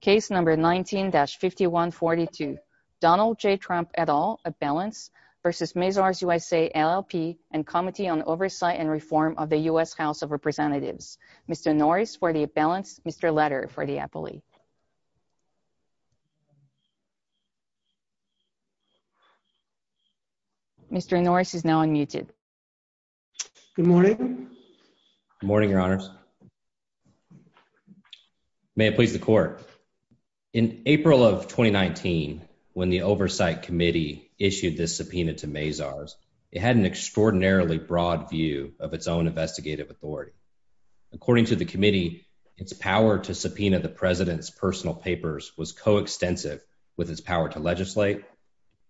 Case No. 19-5142, Donald J. Trump et al., a balance, v. Mazars USA, LLP and Committee on Oversight and Reform of the U.S. House of Representatives. Mr. Norris for the balance, Mr. Letter for the appellee. Mr. Norris is now unmuted. Good morning. Good morning, Your Honors. May it please the Court. In April of 2019, when the Oversight Committee issued this subpoena to Mazars, it had an extraordinarily broad view of its own investigative authority. According to the committee, its power to subpoena the president's personal papers was coextensive with its power to legislate.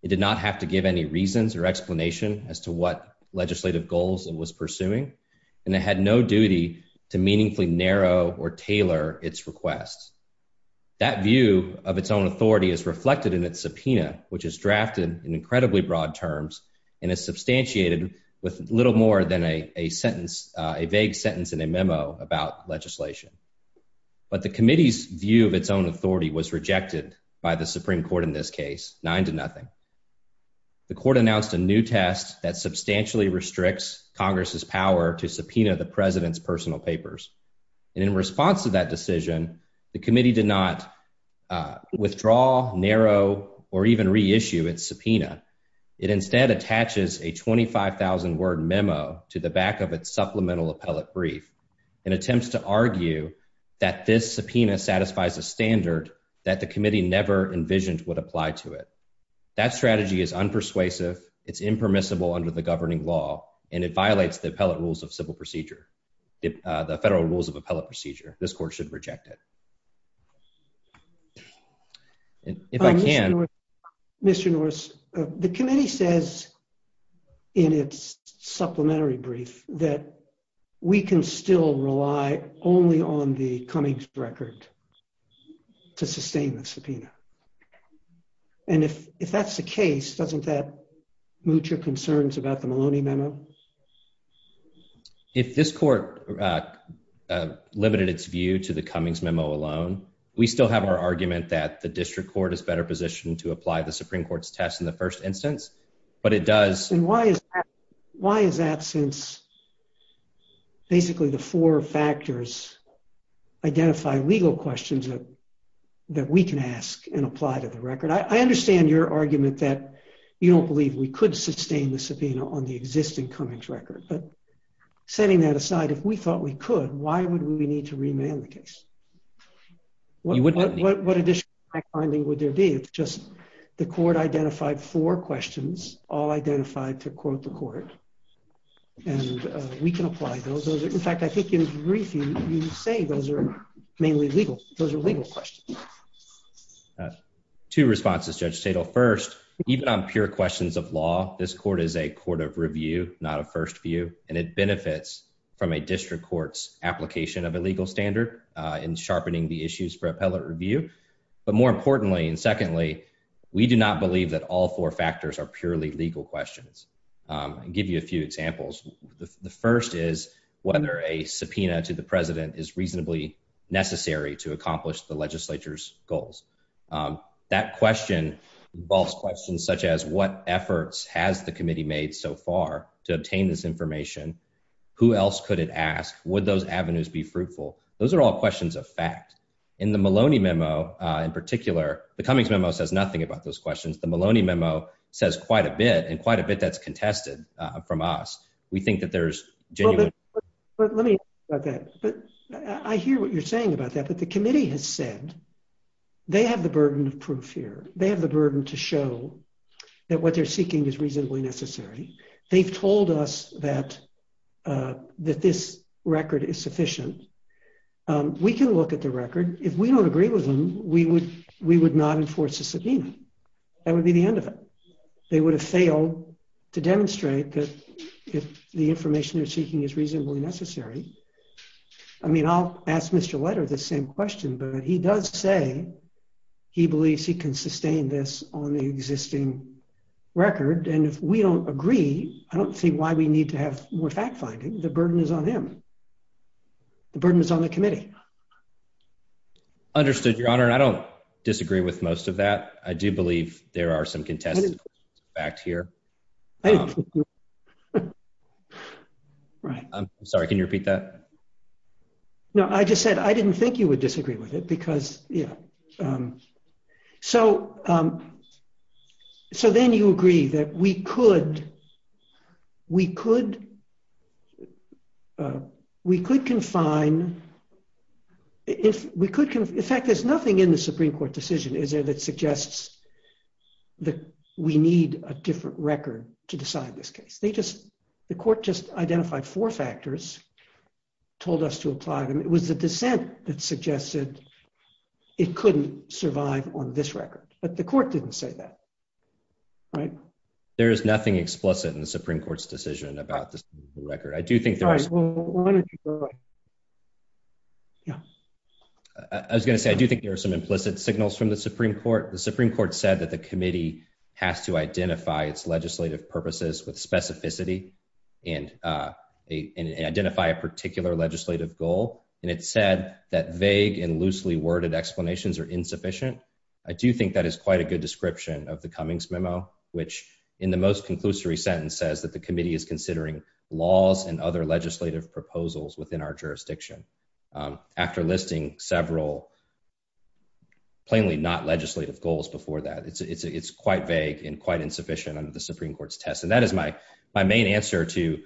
It did not have to give any reasons or explanation as to what legislative goals it was pursuing, and it had no duty to meaningfully narrow or tailor its requests. That view of its own authority is reflected in its subpoena, which is drafted in incredibly broad terms, and it's substantiated with little more than a sentence, a vague sentence in a memo about legislation. But the committee's view of its own authority was rejected by the Supreme Court in this case, nine to nothing. The Court announced a new test that substantially restricts Congress's power to subpoena the president's personal papers, and in response to that decision, the committee did not withdraw, narrow, or even reissue its subpoena. It instead attaches a 25,000-word memo to the back of its supplemental appellate brief and attempts to argue that this subpoena satisfies a standard that the committee never envisioned would apply to it. That strategy is unpersuasive, it's impermissible under the governing law, and it violates the appellate rules of civil procedure, the federal rules of appellate procedure. This Court should reject it. Mr. Norris, the committee says in its supplementary brief that we can still rely only on the Cummings record to sustain the subpoena, and if that's the case, if this Court limited its view to the Cummings memo alone, we still have our argument that the district court is better positioned to apply the Supreme Court's test in the first instance, but it does... And why is that since basically the four factors identify legal questions that we can ask and apply to the record? I understand your argument that you don't believe we could sustain the subpoena on the existing Cummings record, but setting that aside, if we thought we could, why would we need to remand the case? What additional fact-finding would there be? It's just the Court identified four questions, all identified to quote the Court, and we can apply those. In fact, I think in the brief, you say those are mainly legal, those are legal questions. Two responses, Judge Stadel. First, even on pure questions of law, this Court is a court of review, not a first view, and it benefits from a district court's application of a legal standard in sharpening the issues for appellate review, but more importantly and secondly, we do not believe that all four factors are purely legal questions. I'll give you a few examples. The first is whether a subpoena to the President is reasonably necessary to accomplish the legislature's goals. That question involves questions such as what efforts has the committee made so far to obtain this information? Who else could it ask? Would those avenues be fruitful? Those are all questions of fact. In the Maloney memo, in particular, the Cummings memo says nothing about those questions. The Maloney memo says quite a bit, and quite a bit that's contested from us. We think that there's genuine... But let me ask about that. I hear what you're saying about that, but the committee has said they have the burden of proof here. They have the burden to show that what they're seeking is reasonably necessary. They told us that that this record is sufficient. We can look at the record. If we don't agree with them, we would not enforce a subpoena. That would be the end of it. They would have failed to demonstrate that if the information they're seeking is reasonably necessary. I mean, I'll ask Mr. Wetter the same question, but he does say he believes he can sustain this on the existing record, and if we don't agree, I don't see why we need to have more fact-finding. The burden is on him. The burden is on the committee. Understood, Your Honor. I don't disagree with most of that. I do believe there are some contested facts here. Right. I'm sorry, can you repeat that? No, I just said I didn't think you would disagree with it, because, yeah. So, so then you agree that we could, we could, we could confine, if we could... In fact, there's nothing in the Supreme Court decision, is there, that suggests that we need a different record to decide this case. They just, the court just identified four factors, told us to apply them. It was the dissent that suggested it couldn't survive on this record, but the court didn't say that. Right. There is nothing explicit in the Supreme Court's decision about the record. I do think... I was going to say, I do think there are some implicit signals from the Supreme Court. The Supreme Court said that the committee has to identify its legislative purposes with specificity, and identify a particular legislative goal, and it said that vague and loosely worded explanations are insufficient. I do think that is quite a good description of the Cummings memo, which in the most conclusory sentence says that the committee is considering laws and other legislative proposals within our jurisdiction, after listing several plainly not legislative goals before that. It's, it's quite vague and quite insufficient under the Supreme Court's test, and that is my, my main answer to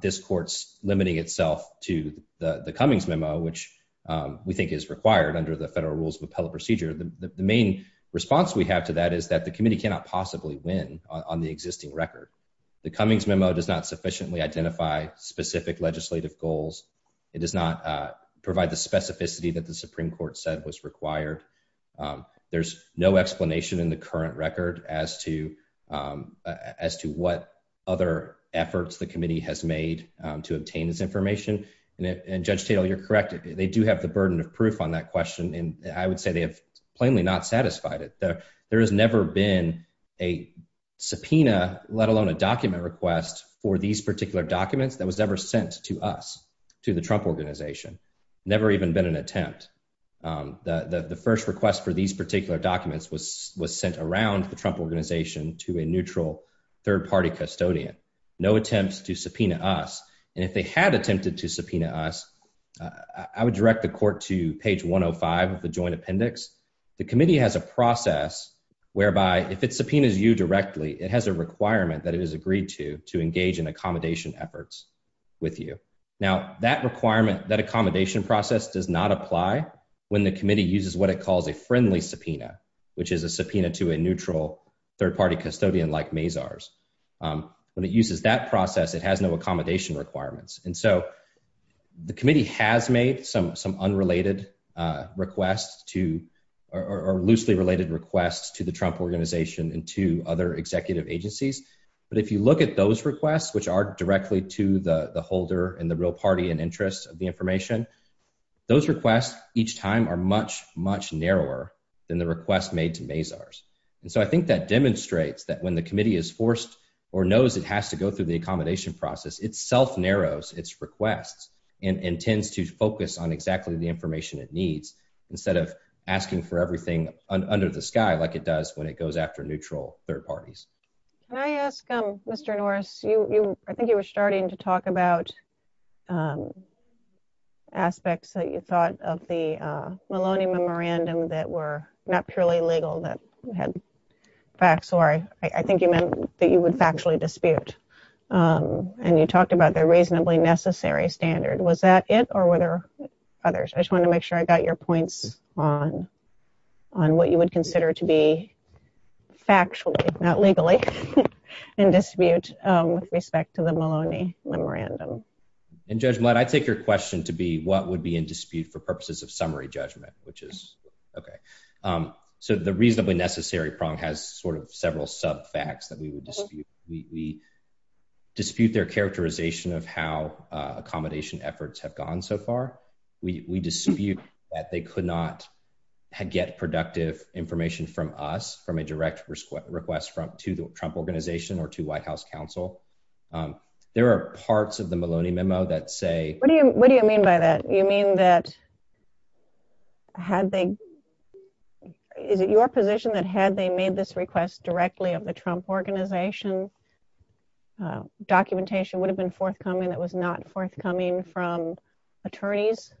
this court's limiting itself to the Cummings memo, which we think is required under the federal rules of appellate procedure. The main response we have to that is that the committee cannot possibly win on the existing record. The committee does not provide specific legislative goals. It does not provide the specificity that the Supreme Court said was required. There's no explanation in the current record as to, as to what other efforts the committee has made to obtain this information, and Judge Tatel, you're correct, they do have the burden of proof on that question, and I would say they have plainly not satisfied it. There has never been a subpoena, let alone a document request, for these particular documents that was ever sent to us, to the Trump organization. Never even been an attempt. The, the first request for these particular documents was, was sent around the Trump organization to a neutral third-party custodian. No attempts to subpoena us, and if they had attempted to subpoena us, I would direct the court to page 105 of the joint appendix. The committee has a process whereby, if it subpoenas you directly, it has a process whereby it has no obligation to, to engage in accommodation efforts with you. Now, that requirement, that accommodation process does not apply when the committee uses what it calls a friendly subpoena, which is a subpoena to a neutral third-party custodian like Mazars. When it uses that process, it has no accommodation requirements, and so the committee has made some, some unrelated requests to, or loosely related requests to the Trump organization and to other executive agencies, but if you look at those requests, which are directly to the, the holder and the real party and interest of the information, those requests each time are much, much narrower than the request made to Mazars, and so I think that demonstrates that when the committee is forced or knows it has to go through the accommodation process, it self-narrows its requests and intends to focus on exactly the information it needs, instead of asking for everything under the sky like it does when it goes after neutral third parties. Can I ask, um, Mr. Norris, you, you, I think you were starting to talk about aspects that you thought of the Maloney memorandum that were not purely legal, that had facts, or I, I think you meant that you would factually dispute, and you talked about the reasonably necessary standard. Was that it, or were there others? I just want to make sure I got your points on, on what you would consider to be factually, not legally, in dispute with respect to the Maloney memorandum. In judgment, I take your question to be what would be in dispute for purposes of summary judgment, which is, okay, so the reasonably necessary prong has sort of several sub facts that we would dispute. We dispute their characterization of how we dispute that they could not get productive information from us, from a direct request from, to the Trump Organization or to White House counsel. There are parts of the Maloney memo that say... What do you, what do you mean by that? You mean that, had they, is it your position that had they made this request directly of the Trump Organization, documentation would have been forthcoming from attorneys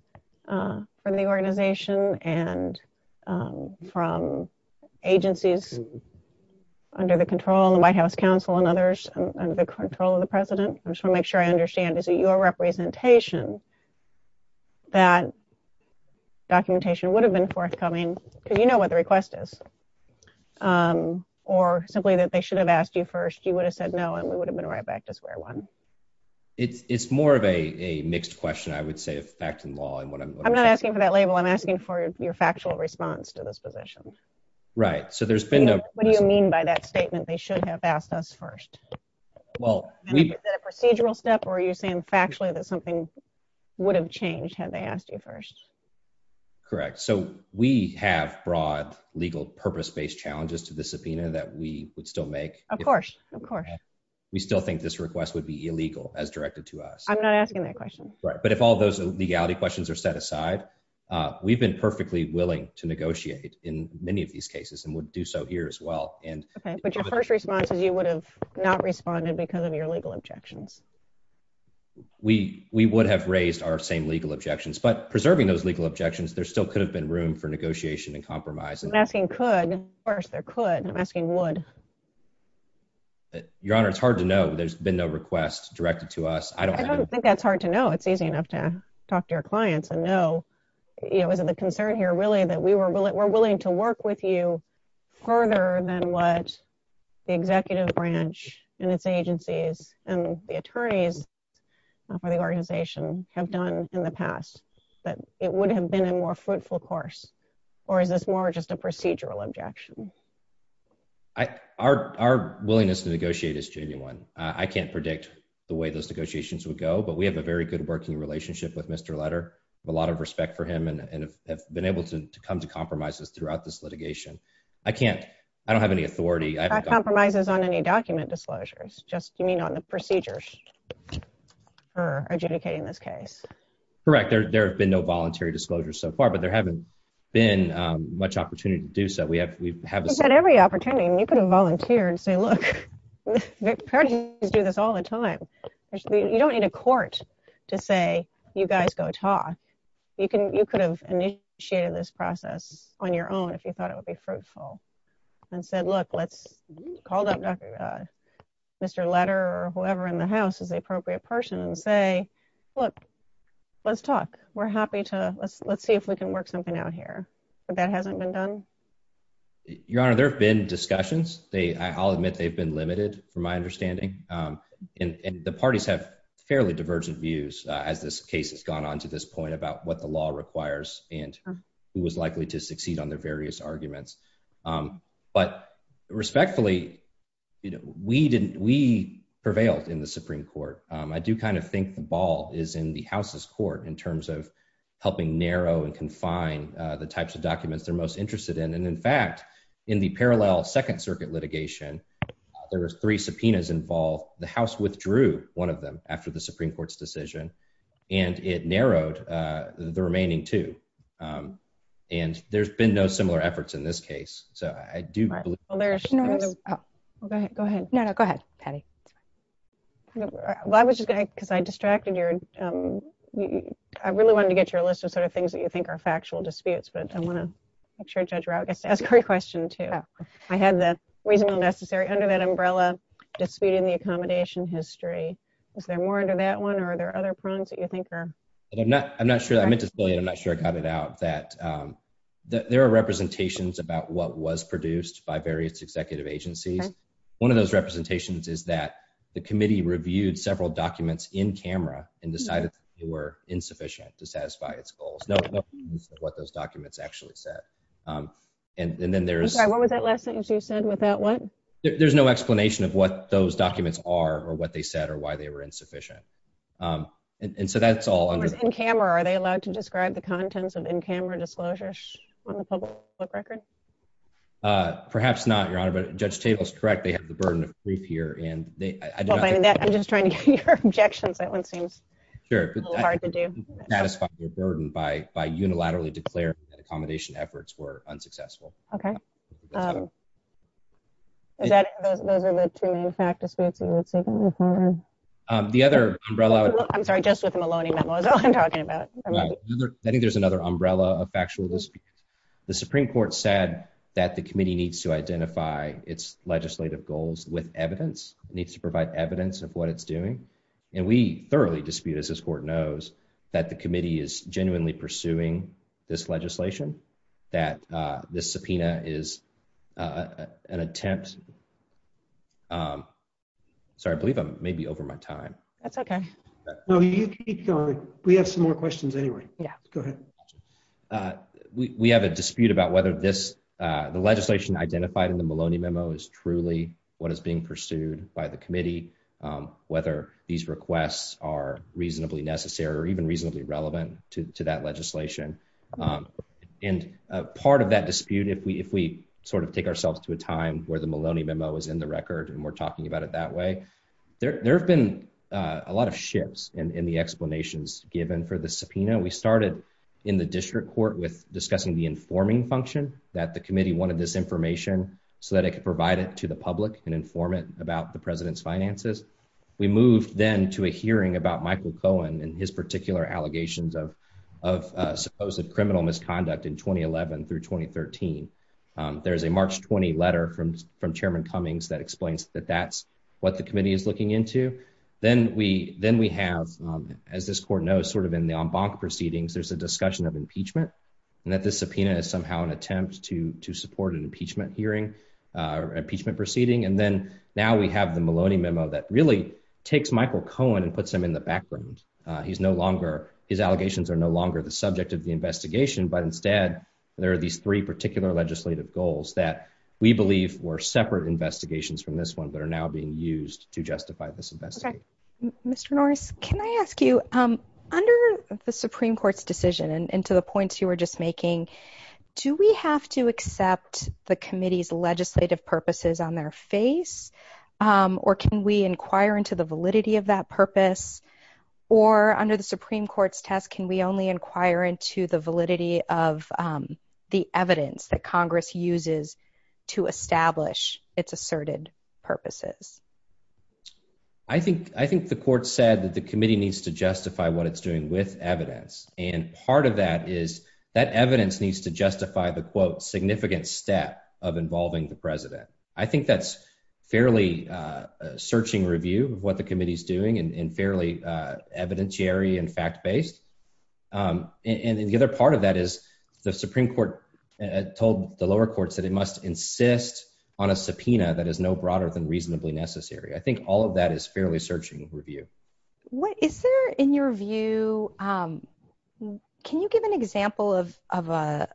from the organization and from agencies under the control of the White House counsel and others, under the control of the president? I just want to make sure I understand, is it your representation that documentation would have been forthcoming, because you know what the request is, or simply that they should have asked you first, you would have said no, and we would have been right back to square one. It's more of a mixed question, I would say, facts and law and what I'm... I'm not asking for that label, I'm asking for your factual response to this position. Right, so there's been... What do you mean by that statement, they should have asked us first? Well... Is that a procedural step or are you saying factually that something would have changed had they asked you first? Correct, so we have broad legal purpose-based challenges to the subpoena that we would make. Of course, of course. We still think this request would be illegal as directed to us. I'm not asking that question. Right, but if all those legality questions are set aside, we've been perfectly willing to negotiate in many of these cases and would do so here as well. Okay, but your first response is you would have not responded because of your legal objections. We would have raised our same legal objections, but preserving those legal objections, there still could have been room for negotiation and compromise. I'm asking could first, or could, I'm asking would. Your Honor, it's hard to know. There's been no requests directed to us. I don't think that's hard to know. It's easy enough to talk to your clients and know, you know, is it a concern here really that we were willing to work with you further than what the executive branch and its agencies and the attorneys for the organization have done in the past, but it would have been a more fruitful course, or is this more just a procedural objection? Our willingness to negotiate is genuine. I can't predict the way those negotiations would go, but we have a very good working relationship with Mr. Letter. A lot of respect for him and have been able to come to compromises throughout this litigation. I can't, I don't have any authority. Compromises on any document disclosures? Just, you mean on the procedures for adjudicating this case? Correct. There have been no voluntary disclosures so far, but there haven't been much opportunity to do so. We have every opportunity. You could have volunteered and say, look, attorneys do this all the time. You don't need a court to say, you guys go talk. You could have initiated this process on your own if you thought it would be fruitful and said, look, let's call up Mr. Letter or let's talk. We're happy to, let's see if we can work something out here. But that hasn't been done? Your Honor, there have been discussions. They, I'll admit they've been limited from my understanding, and the parties have fairly divergent views as this case has gone on to this point about what the law requires and who was likely to succeed on their various arguments. But respectfully, you know, we prevailed in the Supreme Court. I do kind of think the ball is in the House's court in terms of helping narrow and confine the types of documents they're most interested in. And in fact, in the parallel Second Circuit litigation, there were three subpoenas involved. The House withdrew one of them after the Supreme Court's decision, and it narrowed the remaining two. And there's been no I was just gonna, because I distracted your, I really wanted to get your list of sort of things that you think are factual disputes, but I want to make sure Judge Rau gets to ask her question too. I have the reasonable, necessary, under that umbrella dispute in the accommodation history. Is there more under that one, or are there other prongs that you think are? I'm not sure, I meant to say, I'm not sure I got it out, that there are representations about what was produced by various executive agencies. One of those representations is that the committee reviewed several documents in camera and decided they were insufficient to satisfy its goals. No evidence of what those documents actually said. And then there's I'm sorry, what was that last thing you said with that one? There's no explanation of what those documents are, or what they said, or why they were insufficient. And so that's all In camera, are they allowed to describe the contents of in-camera disclosures on the public record? Perhaps not, Your Honor, but Judge Chabel is correct, they have the burden of proof here. I'm just trying to get your objections, that one seems a little hard to do. Sure, but that is part of the burden, by unilaterally declaring that accommodation efforts were unsuccessful. Okay. Those are the two main practices you were taking on, Your Honor. The other umbrella... I'm sorry, just with the Maloney memo, that's all I'm talking about. I think there's another umbrella of factual risk. The Supreme Court said that the committee needs to identify its legislative goals with evidence. It needs to provide evidence of what it's doing. And we thoroughly dispute, as this Court knows, that the committee is genuinely pursuing this legislation, that the subpoena is an attempt... Sorry, I believe I'm maybe over my time. That's okay. We have some more questions anyway. Yeah, go ahead. We have a dispute about whether the legislation identified in the Maloney memo is truly what is being pursued by the committee, whether these requests are reasonably necessary or even reasonably relevant to that legislation. And part of that is that the subpoena is an attempt to mislead the committee into thinking about it that way. There have been a lot of shifts in the explanations given for the subpoena. We started in the district court with discussing the informing function, that the committee wanted this information so that it could provide it to the public and inform it about the president's finances. We moved then to a hearing about Michael Cohen and his particular allegations of supposed criminal misconduct in 2011 through 2013. There's a March 20 letter from Chairman Cummings that explains that that's what the committee is looking into. Then we have, as this Court knows, sort of in the en banc proceedings, there's a discussion of impeachment and that the subpoena is somehow an attempt to support an impeachment hearing or impeachment proceeding. And then now we have the Maloney memo that really takes Michael Cohen and puts him in the background. His allegations are no longer the subject of the investigation, but instead there are these three particular legislative goals that we believe were separate investigations from this one that are now being used to justify this investigation. Mr. Norris, can I ask you, under the Supreme Court's decision and to the points you were just making, can we only inquire into the committee's legislative purposes on their face? Or can we inquire into the validity of that purpose? Or under the Supreme Court's test, can we only inquire into the validity of the evidence that Congress uses to establish its asserted purposes? I think the Court said that the committee needs to justify what it's doing with evidence. And part of that is that evidence needs to justify the quote significant step of involving the president. I think that's fairly searching review of what the committee is doing and fairly evidentiary and fact based. And the other part of that is the Supreme Court told the lower courts that it must insist on a subpoena that is no broader than reasonably necessary. I think all of that is fairly searching review. Is there in your view, can you give an example of a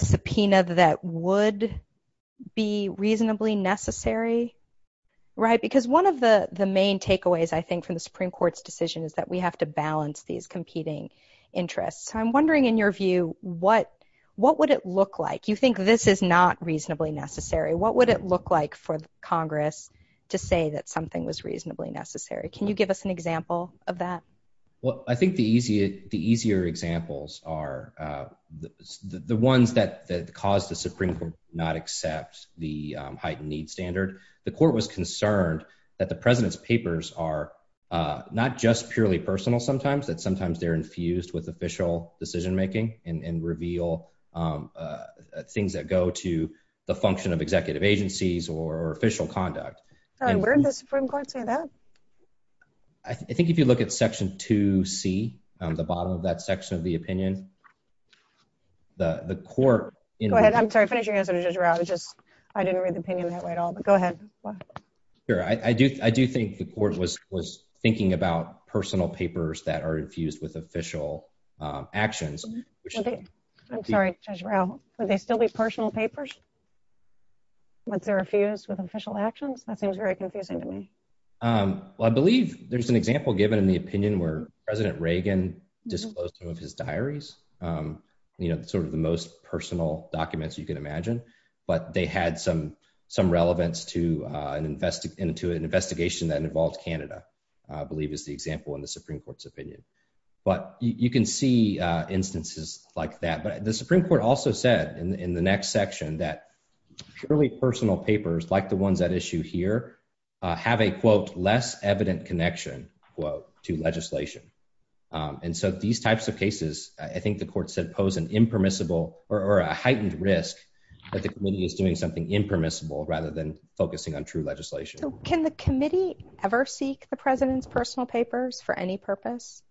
subpoena that would be reasonably necessary? Because one of the main takeaways I think from the Supreme Court's decision is that we have to balance these competing interests. I'm wondering in your view, what would it look like? You think this is not reasonably necessary. What would it look like for Congress to say that something was reasonably necessary? Can you give us an example of that? Well, I think the easier examples are the ones that caused the Supreme Court not accept the heightened needs standard. The court was concerned that the president's papers are not just purely personal sometimes, that sometimes they're infused with official decision making and reveal things that go to the function of executive agencies or official conduct. Where did the Supreme Court say that? I think if you look at section 2C, the bottom of that section of the opinion, the court. I'm sorry, finish your answer. I didn't read the opinion that way at all, but go ahead. I do think the court was thinking about personal papers that are infused with official actions. I'm sorry, Judge Rao. Would they still be personal papers once they're infused with official actions? That seems very confusing to me. I believe there's an example given in the opinion where President Reagan disclosed some of his diaries, sort of the most personal documents you can imagine. But they had some relevance to an investigation that involved Canada, I believe is the example in the Supreme Court's opinion. But you can see instances like that. But the Supreme Court also said in the next section that purely personal papers like the ones at issue here have a, quote, less evident connection, quote, to legislation. And so these types of cases, I think the court said, pose an impermissible or a heightened risk that the committee is pursuing something impermissible rather than focusing on true legislation. Can the committee ever seek the president's personal papers for any purpose?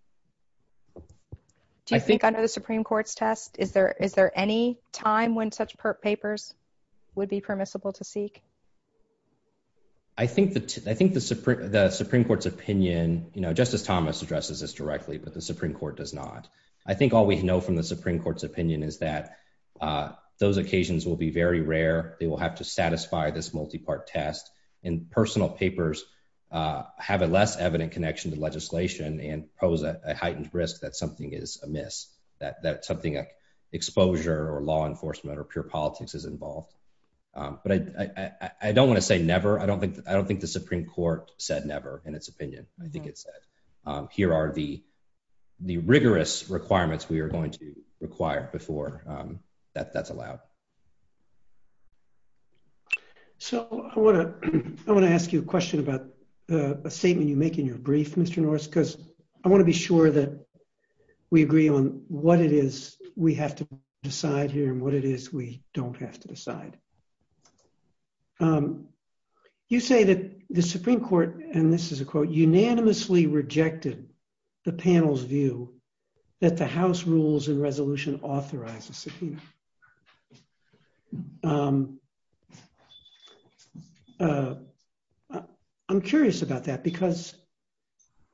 Do you think under the Supreme Court's test, is there any time when such papers would be permissible to seek? I think the Supreme Court's opinion, Justice Thomas addresses this directly, but the Supreme Court does not. I think all we know from the Supreme Court's opinion is that those occasions will be very rare. They will have to satisfy this multi-part test. And personal papers have a less evident connection to legislation and pose a heightened risk that something is amiss, that something like exposure or law enforcement or pure politics is involved. But I don't want to say never. I don't think the Supreme Court said never in its opinion. I think it said, here are the rigorous requirements we are going to require before that's allowed. So I want to ask you a question about the statement you make in your brief, Mr. Norris, because I want to be sure that we agree on what it is we have to decide here and what it is we don't have to decide. You say that the Supreme Court, and this is a quote, unanimously rejected the panel's view that the House rules and resolution authorizes subpoena. I'm curious about that because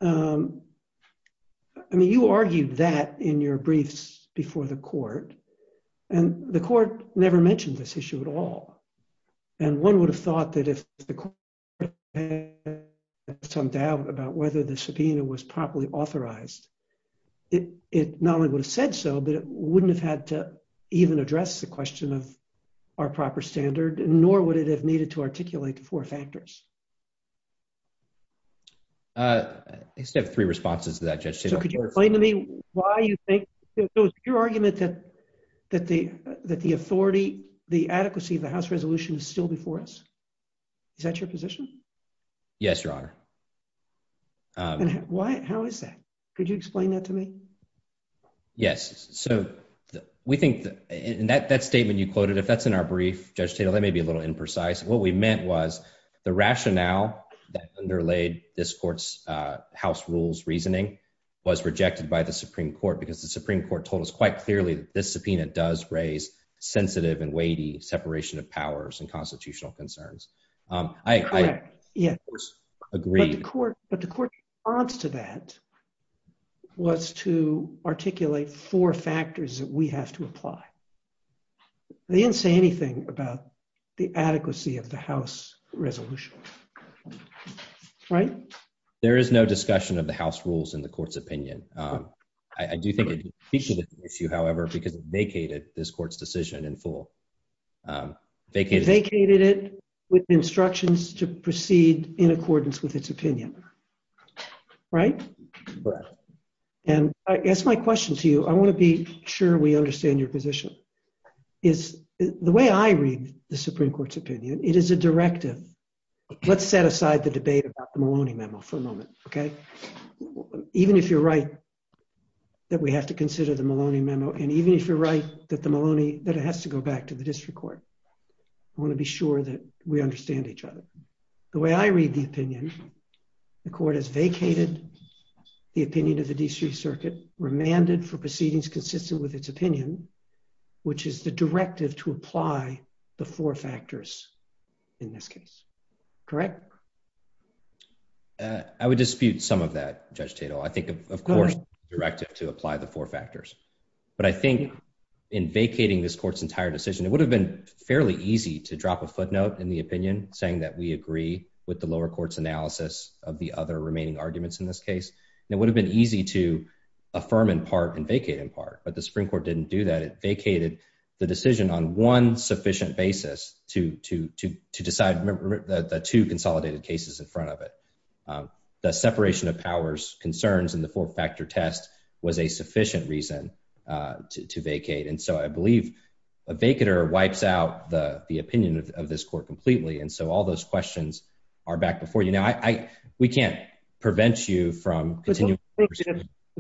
you argued that in your briefs before the court, and the court never mentioned this issue at all. And one would have thought that if the court had some doubt about whether the subpoena was properly authorized, it not only would have said so, but it wouldn't have had to even address the question of our proper standard, nor would it have needed to articulate the four factors. I just have three responses to that, Judge Taylor. So could you explain to me why you think, it was your argument that the authority, the adequacy of the House resolution is still before us? Is that your position? Yes, Your Honor. How is that? Could you explain that to me? Yes. So we think that statement you quoted, if that's in our brief, Judge Taylor, let me be a little imprecise. What we meant was the rationale that underlayed this court's House rules reasoning was rejected by the Supreme Court because the Supreme Court told us quite clearly that this subpoena does raise sensitive and weighty separation of powers and constitutional concerns. I agree. But the court's response to that was to articulate four factors that we have to apply. They didn't say anything about the adequacy of the House resolution. Right? There is no discussion of the House rules in the court's opinion. I do think it's an appreciative issue, however, because it vacated this court's decision in full. Vacated it with instructions to proceed in accordance with its opinion. Right? Right. And that's my question to you. I want to be sure we understand your position. The way I read the Supreme Court's opinion, it is a directive. Let's set aside the debate about the Maloney memo for a moment, okay? Even if you're right that we have to consider the Maloney memo, and even if you're right that it has to go back to the district court, I want to be sure that we understand each other. The way I read the opinion, the court has vacated the opinion of the district circuit, remanded for proceedings consistent with its opinion, which is the directive to apply the four factors in this case. Correct? I would dispute some of that, Judge Tatel. I think, of course, directed to apply the four factors. But I think in vacating this court's entire decision, it would have been fairly easy to drop a footnote in the opinion saying that we agree with the lower court's analysis of the other remaining arguments in this case. It would have been easy to affirm in part and vacate in part. But the Supreme Court didn't do that. It vacated the decision on one sufficient basis to decide the two consolidated cases in front of it. The separation of powers concerns in the four factor test was a sufficient reason to vacate. And so I believe a vacater wipes out the opinion of this court completely. And so all those questions are back before you now. We can't prevent you from continuing. If the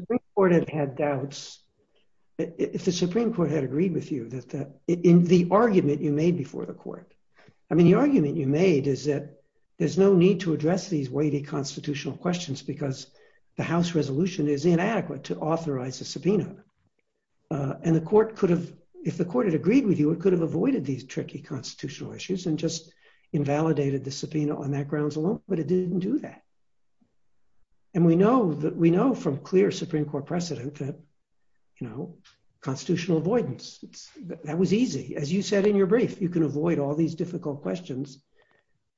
Supreme Court had had doubts, if the Supreme Court had agreed with you in the argument you made before the court. I mean, the argument you made is that there's no need to address these weighty constitutional questions because the House resolution is inadequate to authorize a subpoena. And the court could have, if the court had agreed with you, it could have avoided these tricky And we know that we know from clear Supreme Court precedent that, you know, constitutional avoidance, that was easy. As you said in your brief, you can avoid all these difficult questions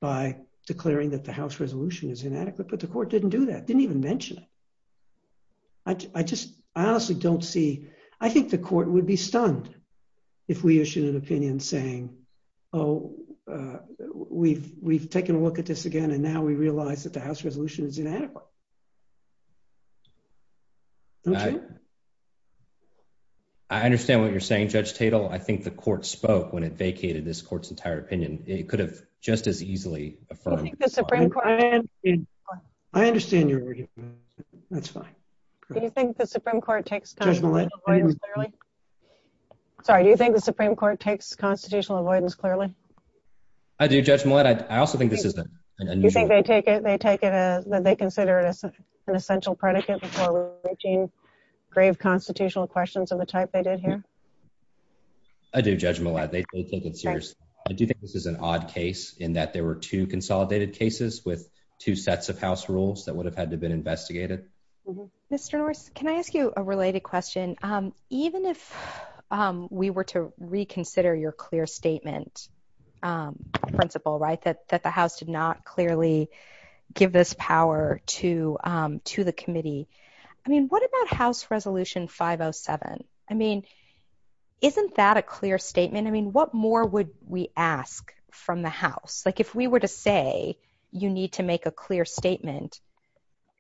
by declaring that the House resolution is inadequate. But the court didn't do that. Didn't even mention it. I just, I honestly don't see, I think the court would be stunned if we issued an opinion saying, oh, we've we've taken a look at this again. And now we realize that the House resolution is inadequate. I understand what you're saying, Judge Tatel. I think the court spoke when it vacated this court's entire opinion. It could have just as easily. I understand your argument. That's fine. Do you think the Supreme Court takes constitutional avoidance clearly? I do, Judge Millett. I also think this isn't. Do you think they consider it an essential predicate for reaching grave constitutional questions of the type they did here? I do, Judge Millett. I do think this is an odd case in that there were two consolidated cases with two sets of House rules that would have had to been investigated. Mr. Norris, can I ask you a related question? Even if we were to reconsider your clear statement principle, right, that the House did not clearly give this power to the committee, I mean, what about House Resolution 507? I mean, isn't that a clear statement? I mean, what more would we ask from the House? Like, if we were to say you need to make a clear statement,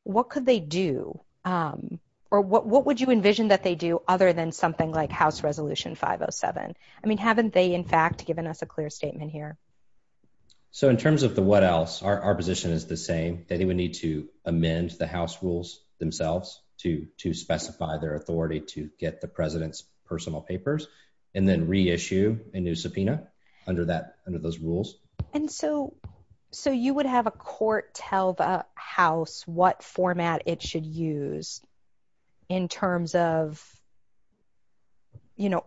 what could they do or what would you envision that they do other than something like House Resolution 507? I mean, haven't they in fact given us a clear statement here? So in terms of the what else, our position is the same. They would need to amend the House rules themselves to specify their authority to get the President's personal papers and then reissue a new subpoena under those rules. And so you would have a court tell the House what format it should use in terms of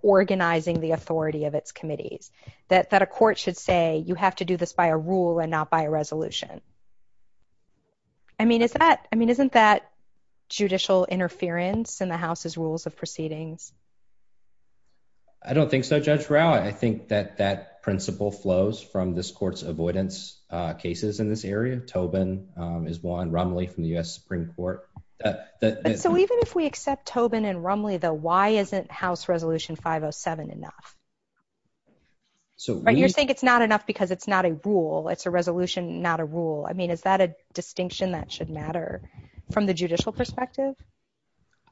organizing the authority of its committees, that a court should say you have to do this by a rule and not by a resolution. I mean, isn't that judicial interference in the House's I think that principle flows from this court's avoidance cases in this area. Tobin, Ismael, and Rumley from the U.S. Supreme Court. So even if we accept Tobin and Rumley, though, why isn't House Resolution 507 enough? You think it's not enough because it's not a rule. It's a resolution, not a rule. I mean, is that a distinction that should matter from the judicial perspective?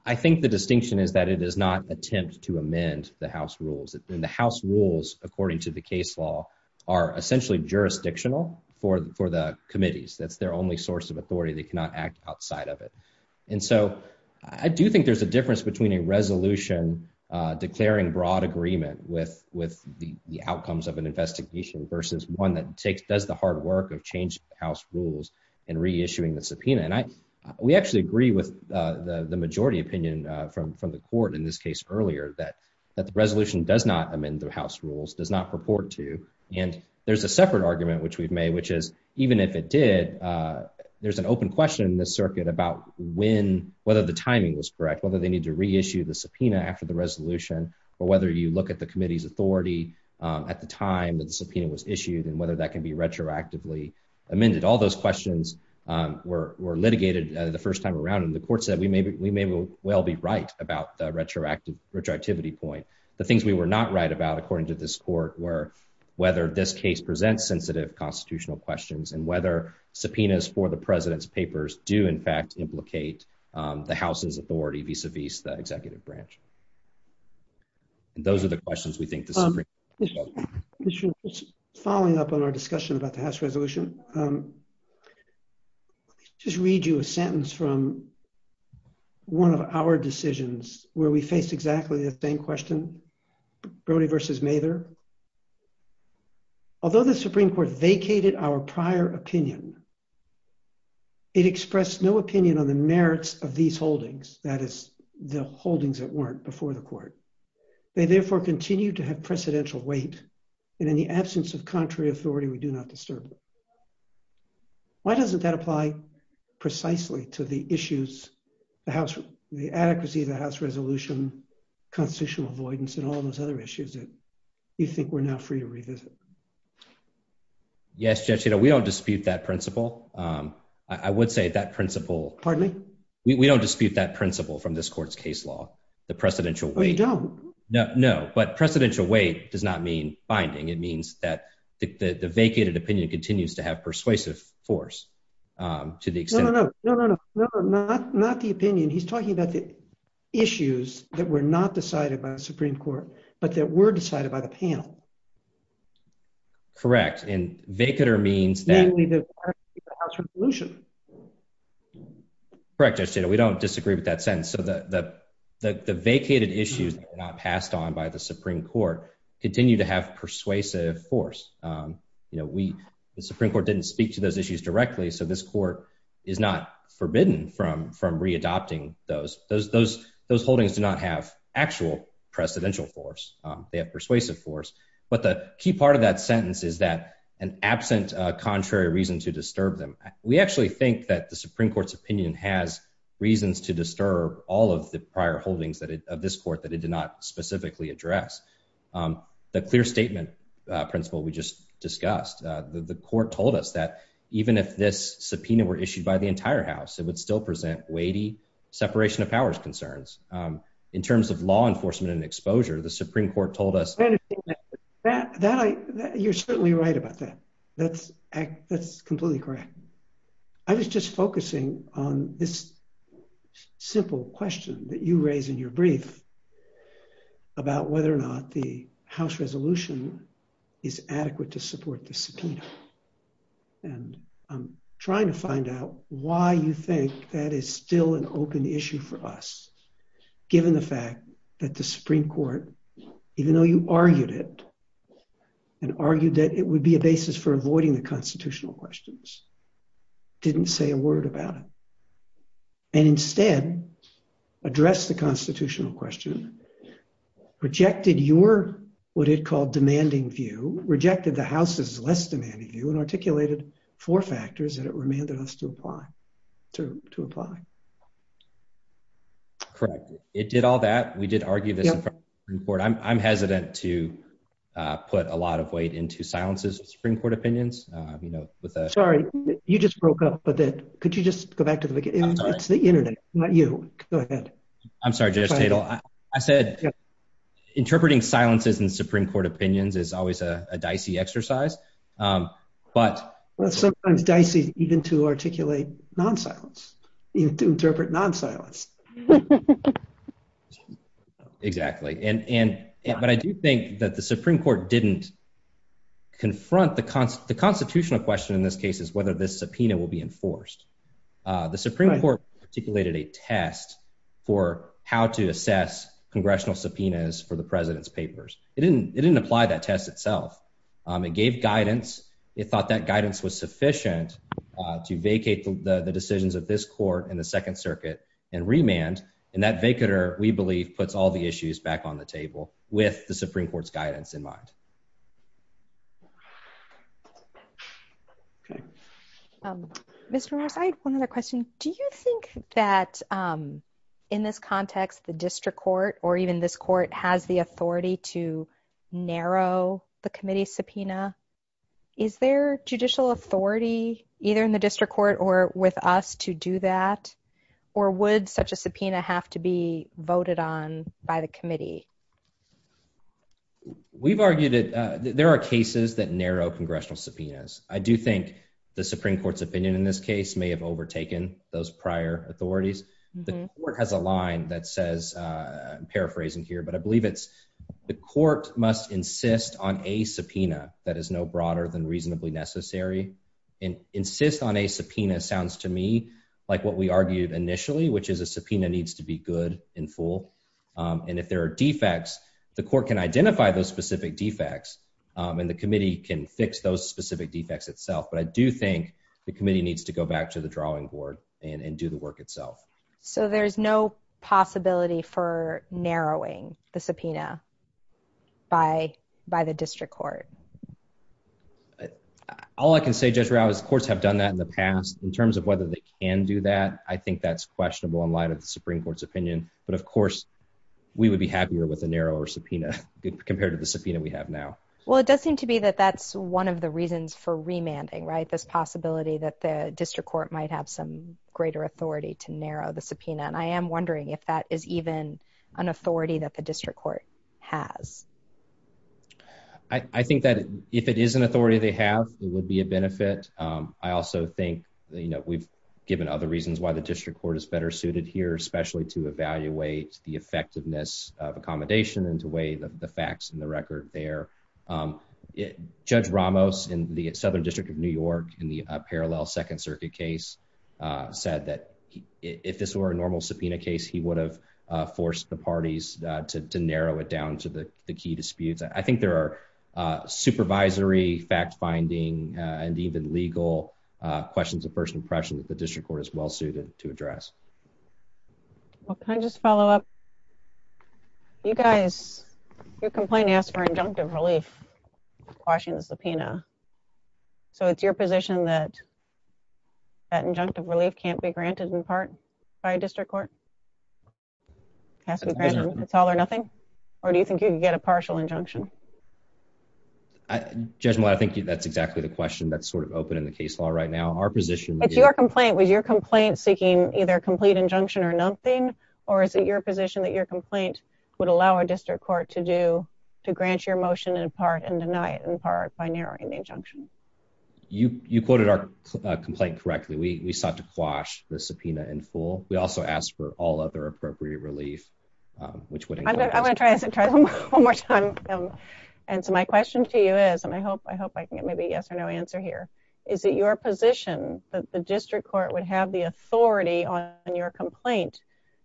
I think the distinction is that it is not an attempt to amend the House rules. The House rules, according to the case law, are essentially jurisdictional for the committees. That's their only source of authority. They cannot act outside of it. And so I do think there's a difference between a resolution declaring broad agreement with the outcomes of an investigation versus one that does the hard work of changing the House rules and reissuing the subpoena. And we actually agree with the majority opinion from the court in this case earlier that the resolution does not amend the House rules, does not purport to. And there's a separate argument which we've made, which is even if it did, there's an open question in this circuit about whether the timing was correct, whether they need to reissue the subpoena after the resolution, or whether you look at the committee's authority at the time the subpoena was issued and whether that can be retroactively amended. All those questions were litigated the first time around, and the court said we may well be right about the retroactivity point. The things we were not right about, according to this court, were whether this case presents sensitive constitutional questions and whether subpoenas for the president's papers do, in fact, implicate the House's authority vis-a-vis the executive branch. Those are the questions we think the Supreme Court should ask. Following up on our discussion about the House resolution, I'll just read you a sentence from one of our decisions where we faced exactly the same question, Brody v. Mather. Although the Supreme Court vacated our prior opinion, it expressed no opinion on the merits of these holdings, that is, the holdings that weren't before the court. They therefore continue to have precedential weight and in the absence of contrary authority, we do not disturb it. Why doesn't that apply precisely to the issues, the adequacy of the House resolution, constitutional avoidance, and all those other issues that you think we're now free to revisit? Yes, Judge, we don't dispute that principle. I would say that principle... Pardon me? We don't dispute that principle from this court's case law, the precedential weight. We don't. No, but precedential weight does not mean binding. It means that the vacated opinion continues to have persuasive force to the extent... No, no, no, not the opinion. He's talking about the holdings that were not decided by the Supreme Court, but that were decided by the panel. Correct, and vacater means that... Namely, the part of the House resolution. Correct, Judge, we don't disagree with that sentence. So the vacated issues not passed on by the Supreme Court continue to have persuasive force. The Supreme Court didn't speak to those issues directly, so this court is not forbidden from re-adopting those. Those holdings do not have actual precedential force. They have persuasive force. But the key part of that sentence is that an absent contrary reason to disturb them. We actually think that the Supreme Court's opinion has reasons to disturb all of the prior holdings of this court that it did not specifically address. The clear statement principle we just discussed, the court told us that even if this subpoena were issued by the entire House, it would still present weighty separation of powers concerns. In terms of law enforcement and exposure, the Supreme Court told us... You're certainly right about that. That's completely correct. I was just focusing on this simple question that you said that the House resolution is adequate to support this subpoena. I'm trying to find out why you think that is still an open issue for us, given the fact that the Supreme Court, even though you argued it and argued that it would be a basis for avoiding the constitutional questions, didn't say a word about it, and instead addressed the constitutional question, rejected your what it called demanding view, rejected the House's less demanding view, and articulated four factors that it remanded us to apply. Correct. It did all that. We did argue that the Supreme Court... I'm hesitant to put a lot of weight into silences of Supreme Court opinions. Sorry. You just broke up a bit. Could you just go back to the beginning? Not you. Go ahead. I'm sorry, Judge Cato. I said interpreting silences in Supreme Court opinions is always a dicey exercise, but... Sometimes dicey even to articulate non-silence, even to interpret non-silence. Exactly. But I do think that the Supreme Court didn't confront the constitutional question in this case is whether this subpoena will be enforced. The Supreme Court articulated a test for how to assess congressional subpoenas for the president's papers. It didn't apply that test itself. It gave guidance. It thought that guidance was sufficient to vacate the decisions of this court and the Second Circuit and remand, and that vacater, we believe, puts all the issues back on the table with the Supreme Court's guidance in mind. Mr. Rose, I have one other question. Do you think that in this context, the district court or even this court has the authority to narrow the committee's subpoena? Is there judicial authority, either in the district court or with us, to do that? Or would such a subpoena have to be voted on by the committee? We've argued that there are cases that narrow congressional subpoenas. I do think the Supreme Court's opinion in this case may have overtaken those prior authorities. The court has a line that says, I'm paraphrasing here, but I believe it's the court must insist on a subpoena that is no broader than reasonably necessary. And insist on a subpoena sounds to me like what we argued initially, which is a subpoena needs to be good and full. And if there are defects, the court can identify those specific defects and the committee can fix those specific defects itself. But I do think the committee needs to go back to the drawing board and do the work itself. So there's no possibility for narrowing the subpoena by the district court? All I can say, Judge Rao, is courts have done that in the past. In terms of whether they can do that, I think that's questionable in light of the Supreme Court's opinion. But of course, we would be happier with a narrower subpoena compared to the subpoena we have now. Well, it does seem to be that that's one of the reasons for remanding, right? This possibility that the district court might have some greater authority to narrow the subpoena. And I am wondering if that is even an authority that the district court has. I think that if it is an authority they have, it would be a benefit. I also think we've given other reasons why the district court is better suited here, especially to evaluate the effectiveness of accommodation and to weigh the facts in the record there. Judge Ramos in the Southern District of New York in the parallel Second Circuit case said that if this were a normal subpoena case, he would have forced the parties to narrow it down to the key disputes. I think there are supervisory fact-finding and even legal questions that the district court is well suited to address. Can I just follow up? You guys, you're complaining as for injunctive relief quashing the subpoena. So it's your position that that injunctive relief can't be granted in part by a district court? It has to be granted. It's all or nothing? Or do you think you can get a partial injunction? Judge, I think that's exactly the question that's sort of open in the case law right now. If your complaint was your complaint seeking either complete injunction or nothing, or is it your position that your complaint would allow a district court to grant your motion in part and deny it in part by narrowing the injunction? You quoted our complaint correctly. We sought to quash the subpoena in full. We also asked for all other appropriate relief. I'm going to try it one more time. And so my question to you is, and I hope I can get maybe a yes or no answer here, is that your position that the district court would have the authority on your complaint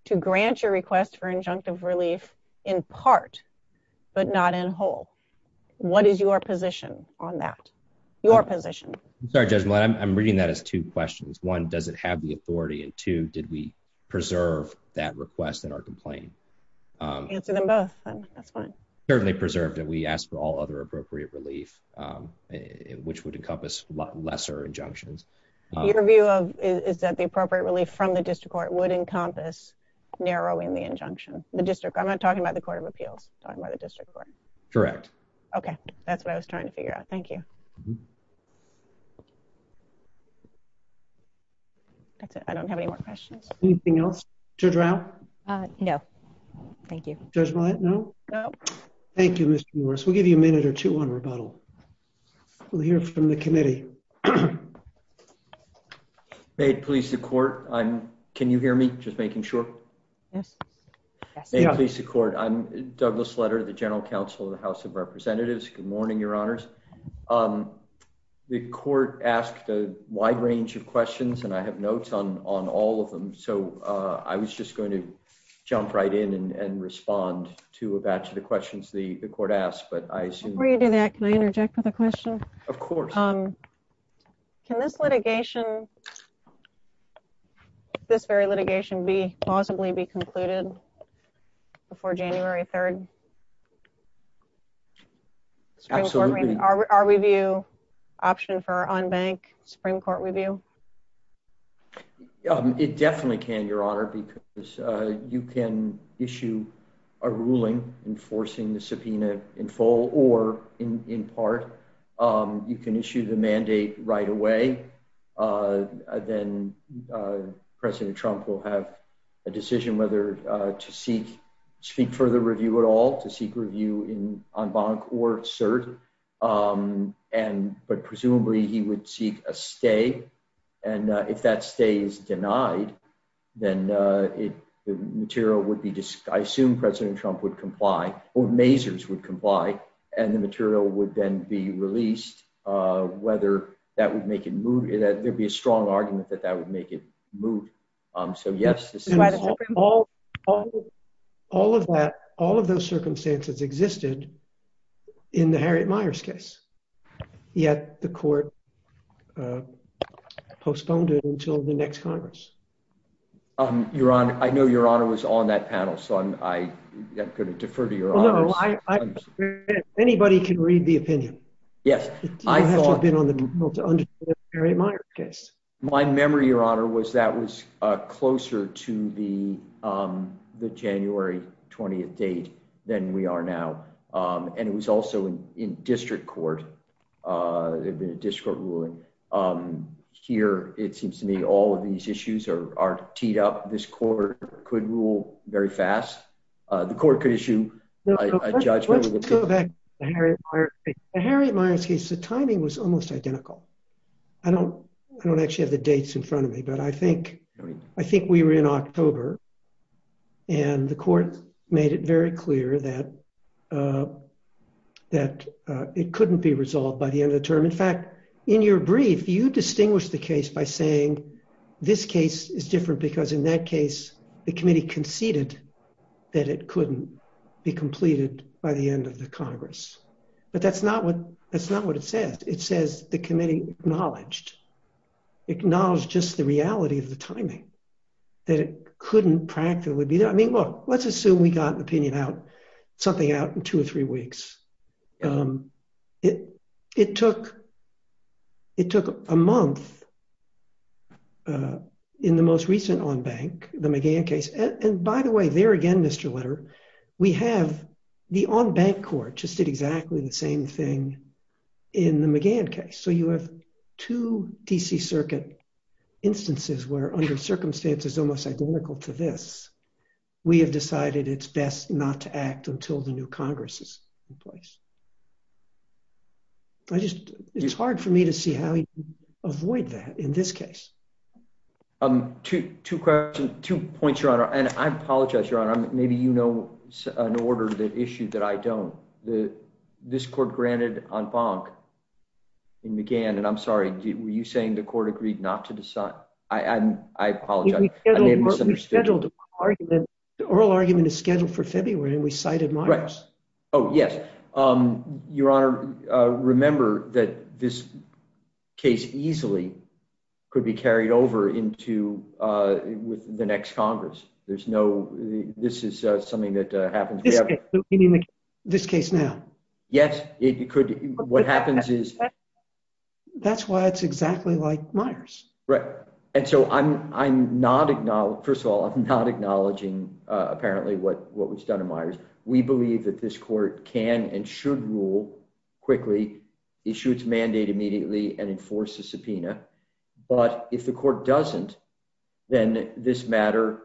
to grant your request for injunctive relief in part but not in whole? What is your position on that? Your position. I'm sorry, Judge, but I'm reading that as two questions. One, does it have the authority? And two, did we preserve that request in our complaint? Answer them both. That's fine. We asked for all other appropriate relief, which would encompass lesser injunctions. Your view is that the appropriate relief from the district court would encompass narrowing the injunction. I'm not talking about the Court of Appeal. I'm talking about the district court. Correct. Okay. That's what I was trying to figure out. Thank you. That's it. I don't have any more questions. Anything else? Judge Rao? No. Thank you. Judge Wyatt, no? No. Thank you, Mr. Morris. We'll give you a minute or two on rebuttal. We'll hear from the committee. May it please the Court. Can you hear me? Just making sure. May it please the Court. I'm Douglas Sletter, the General Counsel of the House of Representatives. Good morning, Your Honors. The Court asked a wide range of questions, and I have notes on all of them. So I was just going to jump right in and respond to a batch of the questions the Court asked. Before you do that, can I interject with a question? Of course. Can this litigation, this very litigation, possibly be concluded before January 3rd? Absolutely. Our review option for on-bank Supreme Court review? It definitely can, Your Honor, because you can issue a ruling enforcing the subpoena in full or in part. You can issue the mandate right away. Then President Trump will have a decision whether to seek further review at all, to seek review on-bank or cert. But presumably he would seek a stay, and if that stay is denied, then the material would be, I assume President Trump would comply, or Mazars would comply, and the material would then be released, whether that would make it move. There would be a strong argument that that would make it move. So yes. All of that, all of those circumstances existed in the Harriet Meyers case, yet the Court postponed it until the next Congress. Your Honor, I know Your Honor was on that panel, so I'm going to defer to Your Honor. Anybody can read the opinion. My memory, Your Honor, was that was closer to the January 20th date than we are now, and it was also in district court, district ruling. Here it seems to me all of these issues are teed up. This Court could rule very fast. The Court could issue a judgment. Let's go back to the Harriet Meyers case. The Harriet Meyers case, the timing was almost identical. I don't actually have the dates in front of me, but I think we were in October, and the Court made it very clear that it couldn't be resolved by the end of the term. In fact, in your brief, you distinguished the case by saying this case is different because in that case the committee conceded that it couldn't be completed by the end of the Congress. But that's not what it says. It says the committee acknowledged, acknowledged just the reality of the timing that it couldn't practically be done. I mean, look, let's assume we got an opinion out, something out in two or three weeks. It took a month in the most recent on-bank, the McGann case, and by the way, there again, Mr. Litter, we have the on-bank Court just did exactly the same thing in the McGann case. So you have two D.C. Circuit instances where under circumstances almost identical to this, we have decided it's best not to act until the new Congress is in place. It's hard for me to see how you avoid that in this case. Two questions, two points, Your Honor, and I apologize, Your Honor. Maybe you know an order that issued that I don't. This Court granted on-bank in McGann, and I'm sorry, were you saying the Court agreed not to decide? I apologize. I made a misunderstanding. The oral argument is scheduled for February, and we cited moderates. Oh, yes. Your Honor, remember that this case easily could be carried over into the next Congress. This is something that happens. This case now? Yes. That's why it's exactly like Myers. First of all, I'm not acknowledging apparently what was done in Myers. We believe that this Court can and should rule quickly, issue its mandate immediately, and enforce the subpoena. But if the Court doesn't, then this matter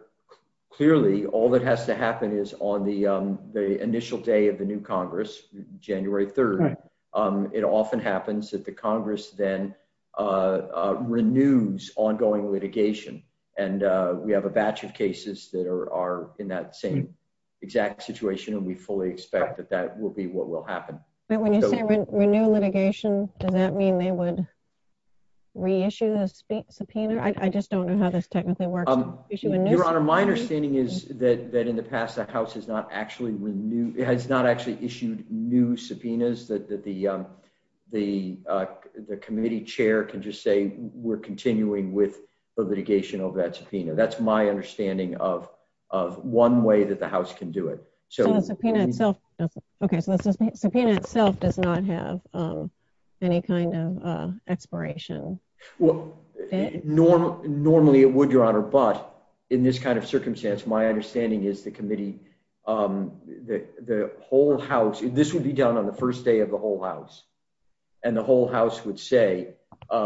clearly, all that has to happen is on the initial day of the new Congress, January 3rd, it often happens that the Congress then renews ongoing litigation, and we have a batch of cases that are in that same exact situation, and we fully expect that that will be what will happen. But when you say renew litigation, does that mean they would reissue the subpoena? I just don't know how this technically works. Your Honor, my understanding is that in the past the House has not actually issued new subpoenas that the committee chair can just say we're continuing with the litigation of that subpoena. That's my understanding of one way that the House can do it. So the subpoena itself does not have any kind of expiration. Normally it would, Your Honor, but in this kind of circumstance, my understanding is the committee, the whole House, this would be done on the first day of the whole House, and the whole House would say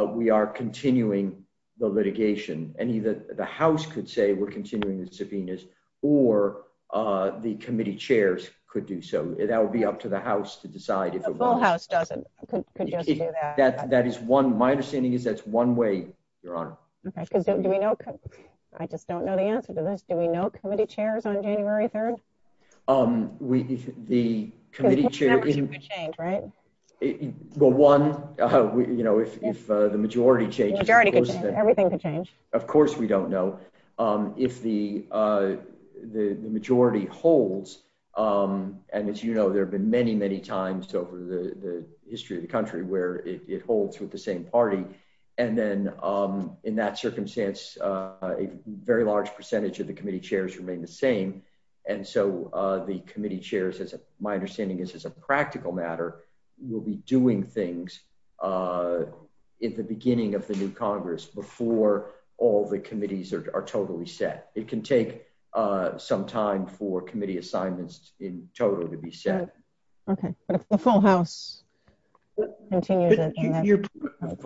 we are continuing the litigation, and either the House could say we're continuing the subpoenas, or the committee chairs could do so. That would be up to the committee. That's one way, Your Honor. I just don't know the answer to this. Do we know committee chairs on January 3rd? The committee chair... If the majority changes... Of course we don't know. If the majority holds, and as you know, there have been many, many times over the history of the country where it holds with the same party, and then in that circumstance a very large percentage of the committee chairs remain the same, and so the committee chairs, my understanding is as a practical matter, will be doing things at the beginning of the new Congress before all the amendments in total to be set. The whole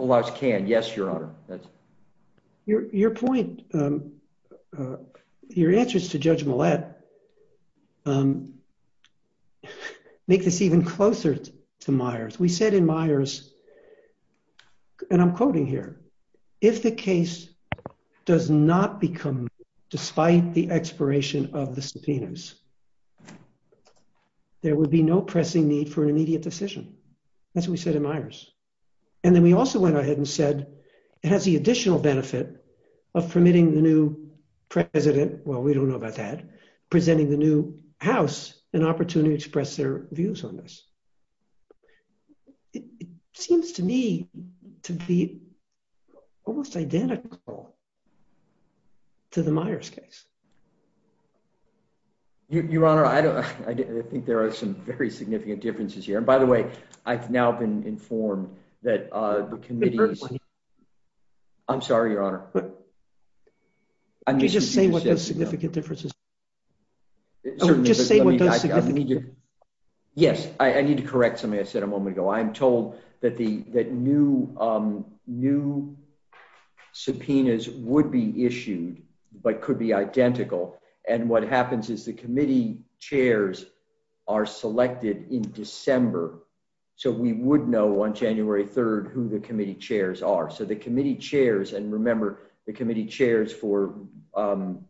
House can, yes, Your Honor. Your point, your answers to Judge Millett make this even closer to Myers. We said in Myers, and I'm quoting here, if the case does not become, despite the expiration of the subpoenas, there would be no pressing need for an immediate decision. That's what we said in Myers. And then we also went ahead and said it has the additional benefit of permitting the new president, well we don't know about that, presenting the new House an opportunity to press their views on this. It seems to me almost identical to the Myers case. Your Honor, I think there are some very significant differences here. And by the way, I've now been informed that the committee I'm sorry, Your Honor. Just say what those significant differences are. Yes, I need to correct something I said a moment ago. I'm told that new subpoenas would be issued, but could be identical. And what happens is the committee chairs are selected in December. So we would know on January 3rd who the committee chairs are. So the committee chairs, and remember, the committee chairs for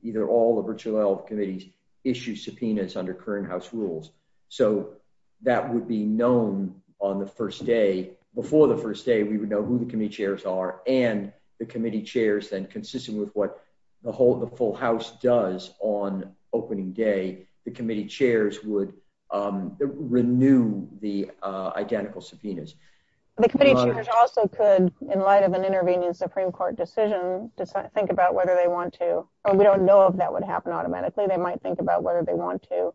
either all the virtual health committees issue subpoenas under current House rules. So that would be known on the first day. Before the first day, we would know who the committee chairs are and the committee chairs then, consisting with what the full House does on opening day, the committee chairs would renew the identical subpoenas. The committee chairs also could, in light of an intervening Supreme Court decision, think about whether they want to. We don't know if that would happen automatically. They might think about whether they want to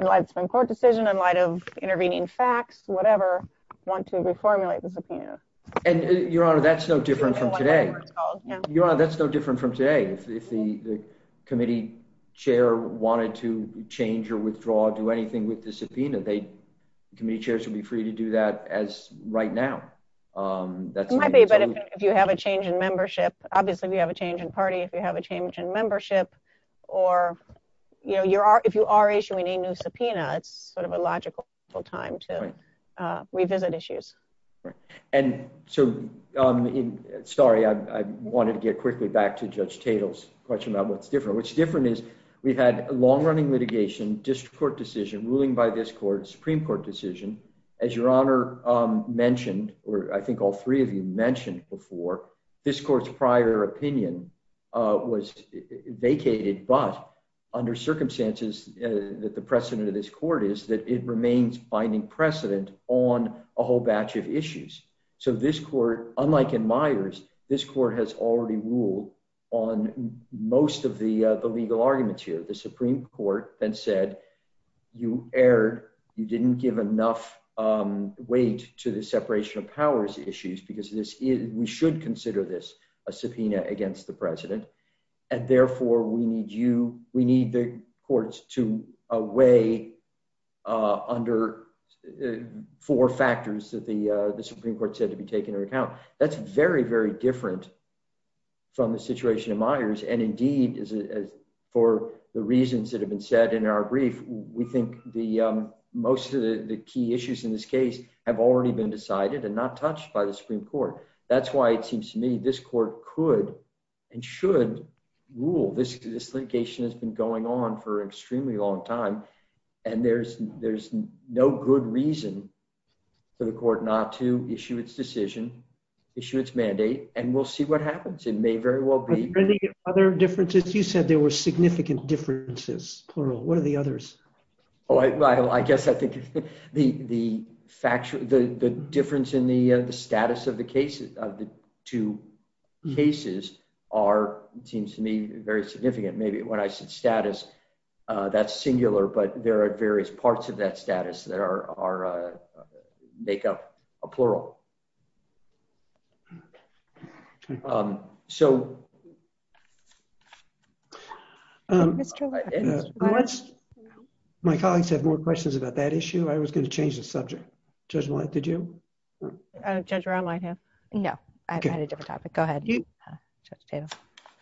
in light of Supreme Court decision, in light of intervening facts, whatever, want to reformulate the subpoena. Your Honor, that's no different from today. Your Honor, that's no different from today. If the committee chair wanted to change or withdraw or do anything with the subpoena, the committee chairs would be free to do that as right now. It might be, but if you have a change in membership, obviously if you have a change in party, if you have a change in membership, or if you are issuing a new subpoena, it's sort of a logical time to revisit issues. And so, sorry, I was going to say that. I was going to say that. As Your Honor mentioned, or I think all three of you mentioned before, this Court's prior opinion was vacated, but under circumstances that the precedent of this Court is that it remains binding precedent on a whole batch of issues. So this Court, unlike in Myers, this Court has already ruled on most of the legal arguments here. The Supreme Court then said, you erred, you didn't give enough weight to the separation of powers issues, because we should consider this a subpoena against the President, and therefore we need you, we need the courts to weigh under four factors that the Supreme Court said to be taken into account. That's very, very different from the situation in Myers, and indeed, for the reasons that have been said in our brief, we think most of the key issues in this case have already been decided and not touched by the Supreme Court. That's why it seems to me this Court could and should rule. This litigation has been going on for an extremely long time, and there's no good reason for the Court not to issue its decision, issue its mandate, and we'll see what happens. It may very well be... Are there any other differences? You said there were significant differences, plural. What are the others? I guess I think the difference in the status of the two cases seems to me very significant. Maybe when I said status, that's singular, but there are various parts of that status that make up a plural. So... My colleagues have more questions about that issue. I was going to change the subject. Judge Millett, did you? Judge Rondlein, yes. I had a different topic. Go ahead.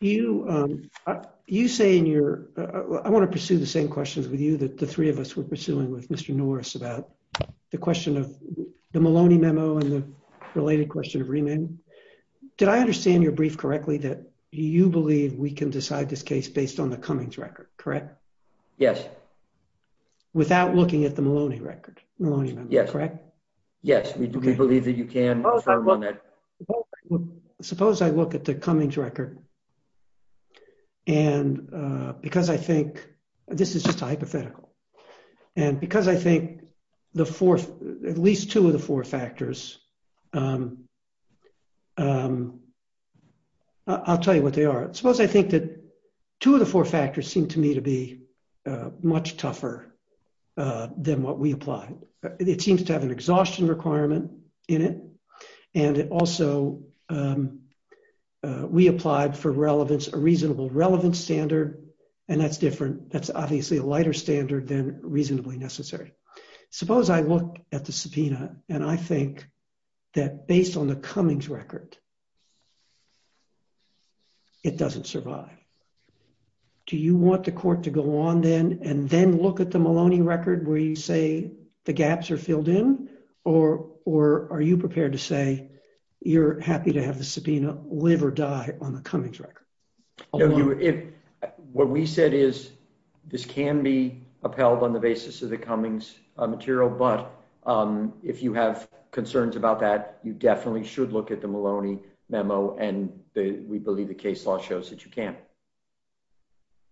You say in your... I want to pursue the same questions with you that the three of us were pursuing with Mr. Norris about the question of the Maloney memo and the related question of remand. Did I understand your brief correctly that you believe we can decide this case based on the Cummings record, correct? Yes. Without looking at the Maloney record? Yes. Correct? Yes. We believe that you can. Suppose I look at the Cummings record and because I think... This is just hypothetical. And because I think at least two of the four factors... I'll tell you what they are. Suppose I think that two of the four factors seem to me to be much tougher than what we applied. It seems to have an exhaustion requirement in it. And it also... We applied for relevance, a reasonable relevance standard. And that's different. That's obviously a lighter standard than reasonably necessary. Suppose I look at the subpoena and I think that based on the Cummings record, it doesn't survive. Do you want the court to go on then and then look at the Maloney record where you say the gaps are filled in? Or are you prepared to say you're What we said is this can be upheld on the basis of the Cummings material. But if you have concerns about that, you definitely should look at the Maloney memo. And we believe the case law shows that you can.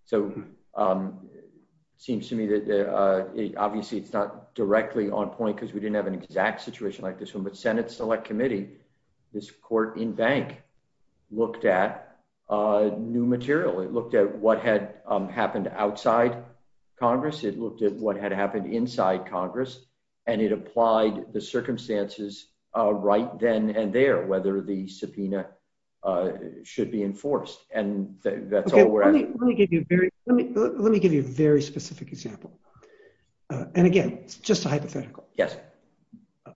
So it seems to me that obviously it's not directly on point because we didn't have an exact situation like this one. But Senate Select Committee, this court in bank, looked at new material. It looked at what had happened outside Congress. It looked at what had happened inside Congress. And it applied the circumstances right then and there, whether the subpoena should be enforced. Let me give you a very specific example. And again, just hypothetical.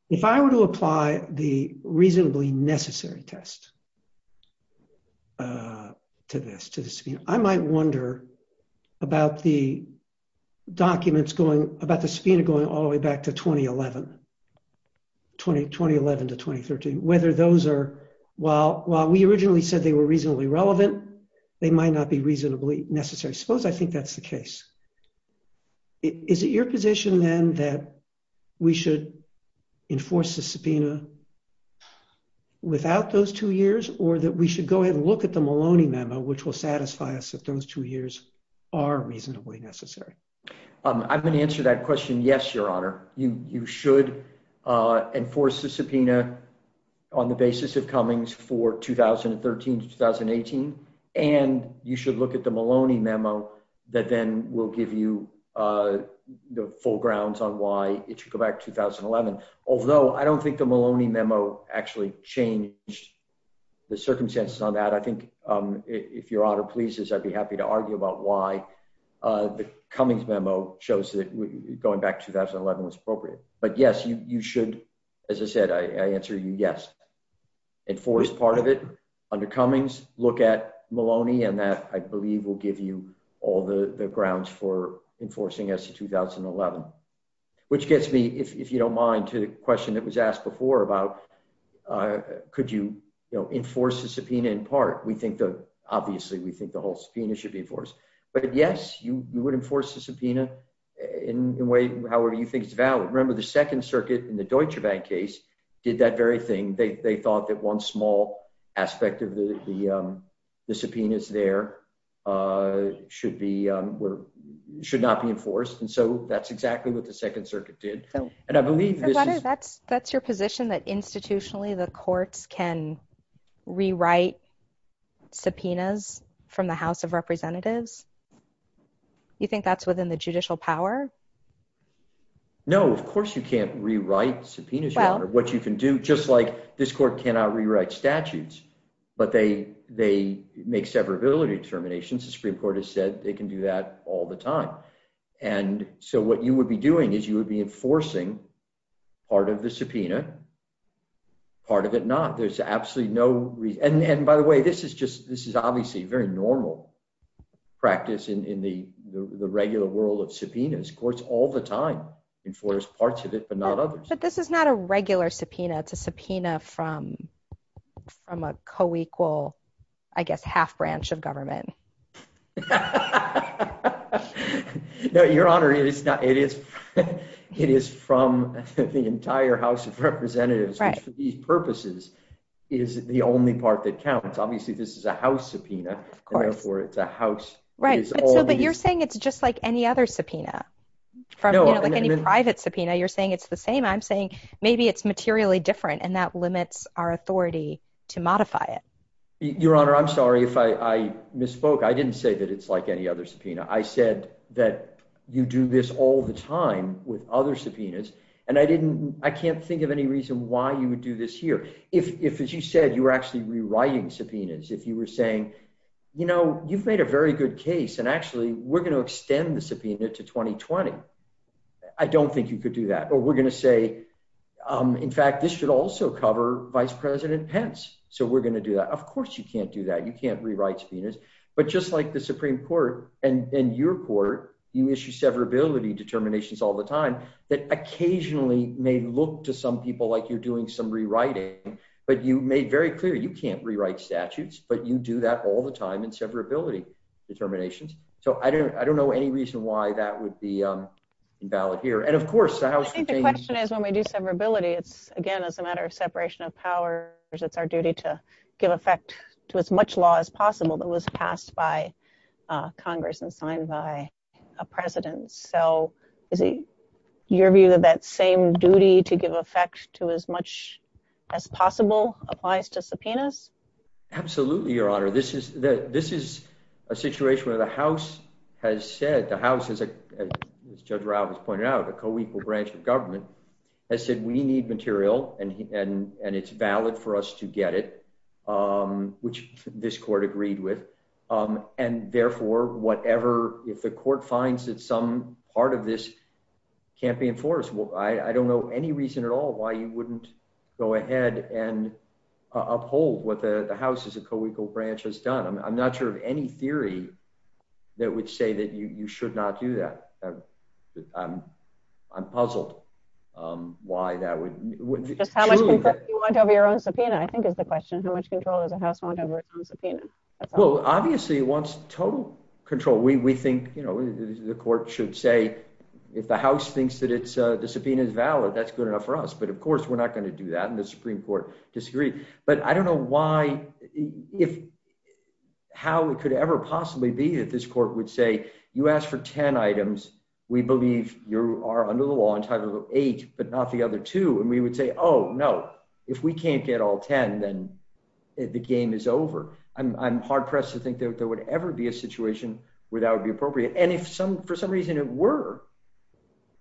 If I were to apply the reasonably necessary test to this subpoena, I might wonder about the documents going, about the subpoena going all the way back to 2011, to 2013, whether those are, while we originally said they were reasonably relevant, they might not be reasonably necessary. Suppose I think that's the case. Is it your position then that we should enforce the subpoena without those two years? Or that we should go ahead and look at the Maloney memo, which will satisfy us if those two years are reasonably necessary? I'm going to answer that question yes, Your Honor. You should enforce the subpoena on the basis of Cummings for 2013 to 2018. And you should look at the Maloney memo that then will give you the full grounds on why it should go back to 2011. Although I don't think the Maloney memo actually changed the circumstances on that. I think if Your Honor pleases, I'd be happy to argue about why the Cummings memo shows that going back to 2011 was appropriate. But yes, you should, as I said, I answer you yes. Enforce part of it under Cummings, look at Maloney, and that I believe will give you all the grounds for enforcing as to 2011. Which gets me, if you don't mind, to the question that was asked before about could you enforce the subpoena in part? We think that obviously we think the whole subpoena should be enforced. But yes, you would enforce the subpoena in the way however you think is valid. Remember the Second Circuit in the Deutsche Bank case did that very thing. They thought that one small aspect of the subpoenas there should not be enforced. And so that's exactly what the Second Circuit did. And I believe this is... Your Honor, that's your position that institutionally the courts can rewrite subpoenas from the House of Representatives? You think that's within the judicial power? No, of course you can't rewrite subpoenas, Your Honor. What you can do, just like this court cannot rewrite statutes, but they make severability determinations. The Supreme Court has said they can do that all the time. And so what you would be doing is you would be enforcing part of the subpoena, part of it not. There's absolutely no... And by the way, this is obviously very normal practice in the regular world of subpoenas. Courts all the time enforce parts of it, but not others. But this is not a regular subpoena. It's a subpoena from a co-equal, I guess half-branch of government. No, Your Honor, it is from the entire House of Representatives, which for these purposes is the only part that counts. Obviously, this is a House subpoena. Right, but you're saying it's just like any other subpoena. Like any private subpoena, you're saying it's the same. I'm saying maybe it's materially different and that limits our authority to modify it. Your Honor, I'm sorry if I misspoke. I didn't say that it's like any other subpoena. I said that you do this all the time with other subpoenas, and I can't think of any reason why you would do this here. If, as you said, you were actually rewriting subpoenas, if you were saying, you know, you've made a very good case, and actually we're going to extend the subpoena to 2020. I don't think you could do that, but we're going to say, in fact, this should also cover Vice President Pence, so we're going to do that. Of course you can't do that. You can't rewrite subpoenas. But just like the Supreme Court and your court, you issue severability determinations all the time that occasionally may look to some people like you're doing some rewriting, but you made very clear you can't rewrite statutes, but you do that all the time in severability determinations. So I don't know any reason why that would be invalid here. And of course, the House continues... I think the question is, when we do severability, it's again, it's a matter of separation of powers. It's our duty to give effect to as much law as possible that was passed by Congress and signed by a president. So is it your view that that same duty to give effect to as much as possible applies to subpoenas? Absolutely, Your Honor. This is a situation where the House has said, the House, as Judge Robbins pointed out, a co-equal branch of government, has said we need material and it's valid for us to get it, which this court agreed with. And therefore, whatever, if the court finds that some part of this can't be enforced, I don't know any reason at all why you wouldn't go ahead and uphold what the House as a co-equal branch has done. I'm not sure of any theory that would say that you should not do that. I'm puzzled why that would... How much control do you want over your own subpoena, I think is the question. How much control does the House want over its own subpoena? Well, obviously it wants total control. We think the court should say, if the House thinks that the subpoena is valid, that's good enough for us. But of course, we're not going to do that, and the Supreme Court disagreed. But I don't know why, if how it could ever possibly be that this court would say, you asked for ten items, we believe you are under the law entitled to eight, but not the other two. And we would say, oh, no, if we can't get all ten, then the game is over. I'm hard pressed to think that there would ever be a situation where that would be appropriate. And if for some reason it were,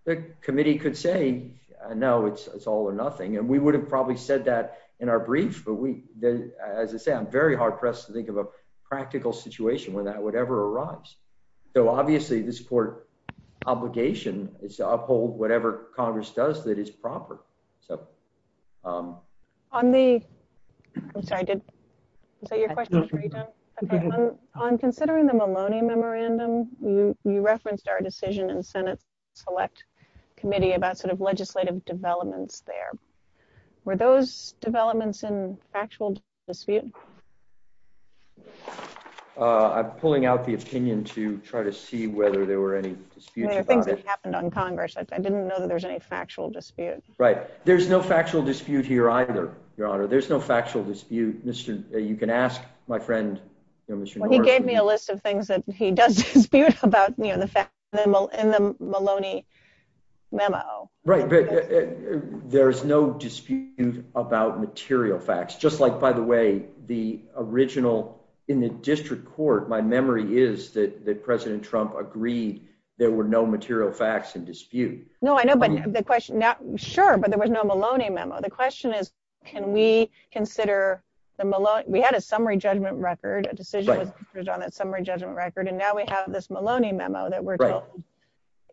the committee could say, no, it's all or nothing. And we would have probably said that in our brief, but as I say, I'm very hard pressed to think of a practical situation where that would ever arise. So obviously this court obligation is to uphold whatever Congress does that is proper. On the... I'm sorry, did I say your question? On considering the Maloney Memorandum, you referenced our decision in Senate Select Committee about sort of legislative developments there. Were those developments in factual dispute? I'm pulling out the opinion to try to see whether there were any disputes about it. I think this happened on Congress. I didn't know that there was any factual dispute. Right. There's no factual dispute here either, Your Honor. There's no factual dispute. You can ask my friend... He gave me a list of things that he does dispute about in the Maloney Memo. Right. There's no dispute about material facts, just like, by the way, the original... In the district court, my memory is that President Trump agreed there were no material facts in dispute. Sure, but there was no Maloney Memo. The question is, can we consider the Maloney... We had a summary judgment record, a decision on a summary judgment record, and now we have this Maloney Memo.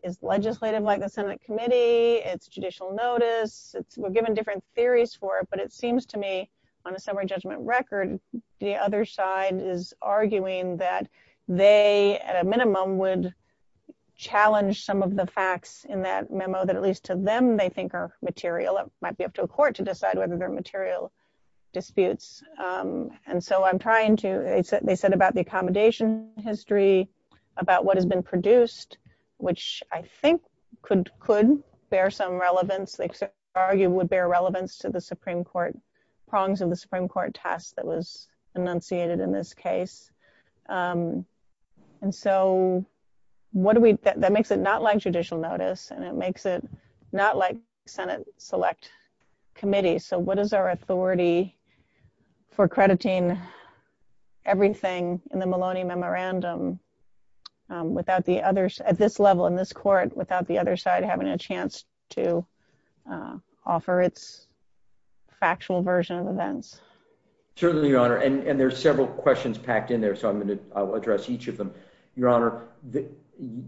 It's legislative like the Senate committee. It's judicial notice. We're given different theories for it, but it seems to me on a summary judgment record, the other side is arguing that they, at a minimum, would challenge some of the facts in that memo that at least to them they think are material. It might be up to a court to decide whether they're material disputes. And so I'm trying to... They said about the accommodation history, about what has been produced, which I think could bear some relevance. They argue it would bear relevance to the Supreme Court, prongs of the Supreme Court task that was enunciated in this case. And so what do we... That makes it not like judicial notice, and it makes it not like the Senate select committee. So what is our authority for crediting everything in the Maloney Memorandum at this level in this court without the other side having a chance to offer its factual version of events? Certainly, Your Honor. And there's several questions packed in there, so I'm going to address each of them. Your Honor,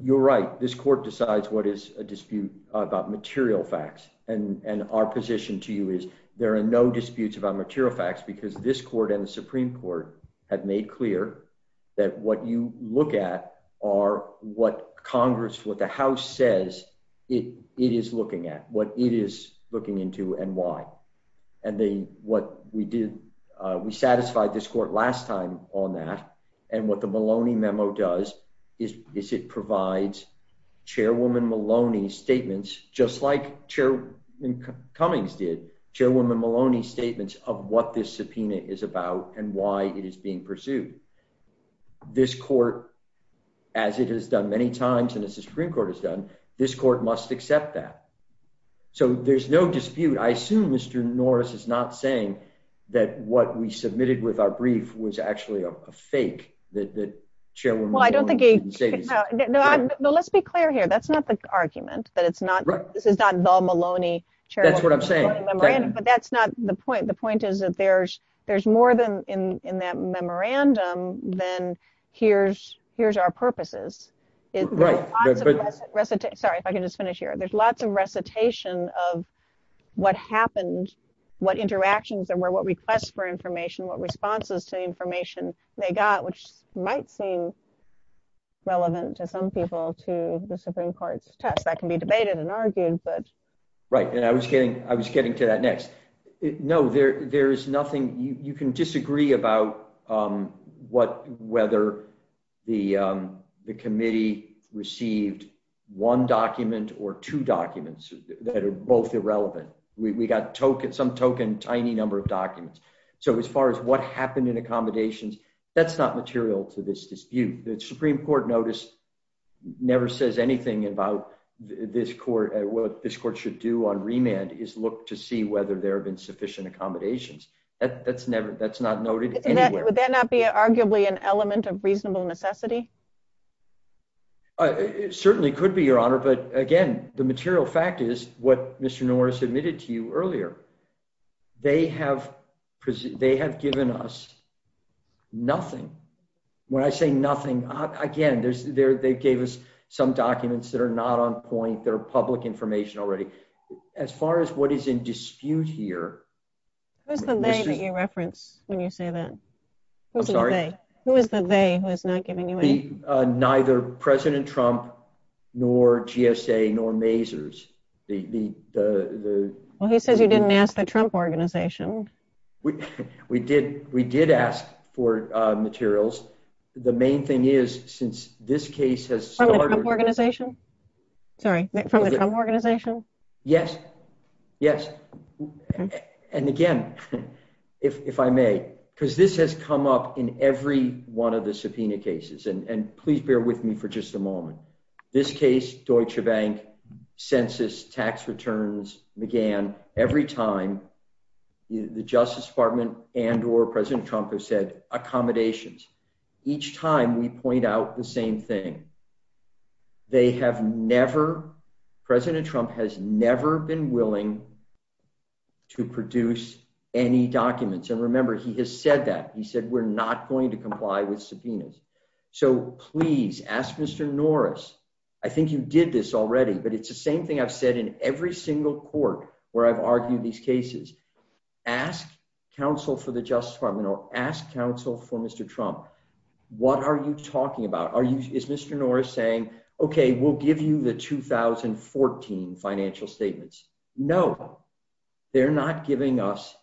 you're right. This court decides what is a dispute about material facts. And our position to you is there are no disputes about material facts because this court and the Supreme Court have made clear that what you look at are what Congress, what the House says it is looking at, what it is looking into and why. And what we did... We brought this court last time on that, and what the Maloney memo does is it provides Chairwoman Maloney's statements, just like Chairwoman Cummings did, Chairwoman Maloney's statements of what this subpoena is about and why it is being pursued. This court, as it has done many times and as the Supreme Court has done, this court must accept that. So there's no dispute. I assume Mr. Norris is not saying that what we submitted with our brief was actually a fake, that Chairwoman Maloney's statements... Well, let's be clear here. That's not the argument. This is not the Maloney Chairwoman Maloney memorandum. But that's not the point. The point is that there's more in that memorandum than here's our purposes. Sorry, I can just finish here. There's lots of recitation of what happened, what interactions there were, what requests for information, what responses to information they got, which might seem relevant to some people to the Supreme Court's test. That can be debated and argued, but... Right. And I was getting to that next. No, there is nothing... You can disagree about whether the committee received one document or two documents that are both irrelevant. We got some token tiny number of documents. So as far as what happened in accommodations, that's not material to this dispute. The Supreme Court notice never says anything about what this court should do on remand is look to see whether there have been sufficient accommodations. That's not noted anywhere. Would that not be arguably an element of reasonable necessity? It certainly could be, Your Honor. But again, the material fact is what Mr. Norris admitted to you earlier. They have given us nothing. When I say nothing, again, they gave us some documents that are not on point, that are public information already. As far as what is in dispute here... Who is the they that you reference when you say that? I'm sorry? Who is the they who has not given you anything? Neither President Trump nor GSA nor Mazars. Well, he says you didn't ask the Trump organization. We did. We did ask for materials. The main thing is since this case has started... From the Trump organization? Sorry, from the Trump organization? Yes. Yes. And again, if I may, because this has come up in every one of the subpoena cases. And please bear with me for just a moment. This case, Deutsche Bank, Census, tax returns, McGann, every time the Justice Department and or President Trump have said accommodations. Each time we point out the same thing. President Trump has never been willing to produce any documents. And remember, he has said that. He said we're not going to comply with subpoenas. So please ask Mr. Norris. I think you did this already. But it's the same thing I've said in every single court where I've argued these cases. Ask counsel for the Justice Department or ask counsel for Mr. Trump. What are you talking about? Is Mr. Norris saying, OK, we'll give you the 2014 financial statements? No. They're not giving us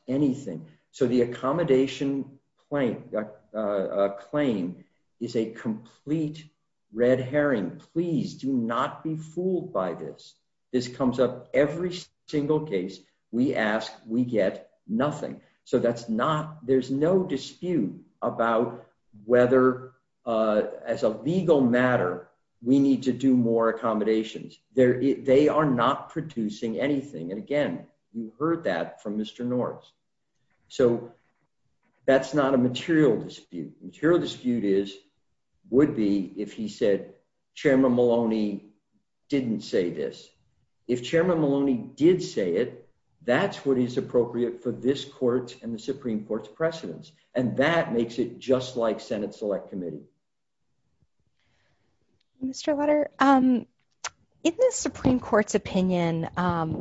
is a complete red herring. Please do not be fooled by this. This comes up every single case we ask. We get nothing. So that's not there's no dispute about whether as a legal matter, we need to do more accommodations. They are not producing anything. And again, you heard that from Mr. Norris. So that's not a material dispute. Material dispute is would be if he said Chairman Maloney didn't say this. If Chairman Maloney did say it, that's what is appropriate for this court and the Supreme Court's precedence. And that makes it just like Senate Select Committee. Mr. Letter in the Supreme Court's opinion,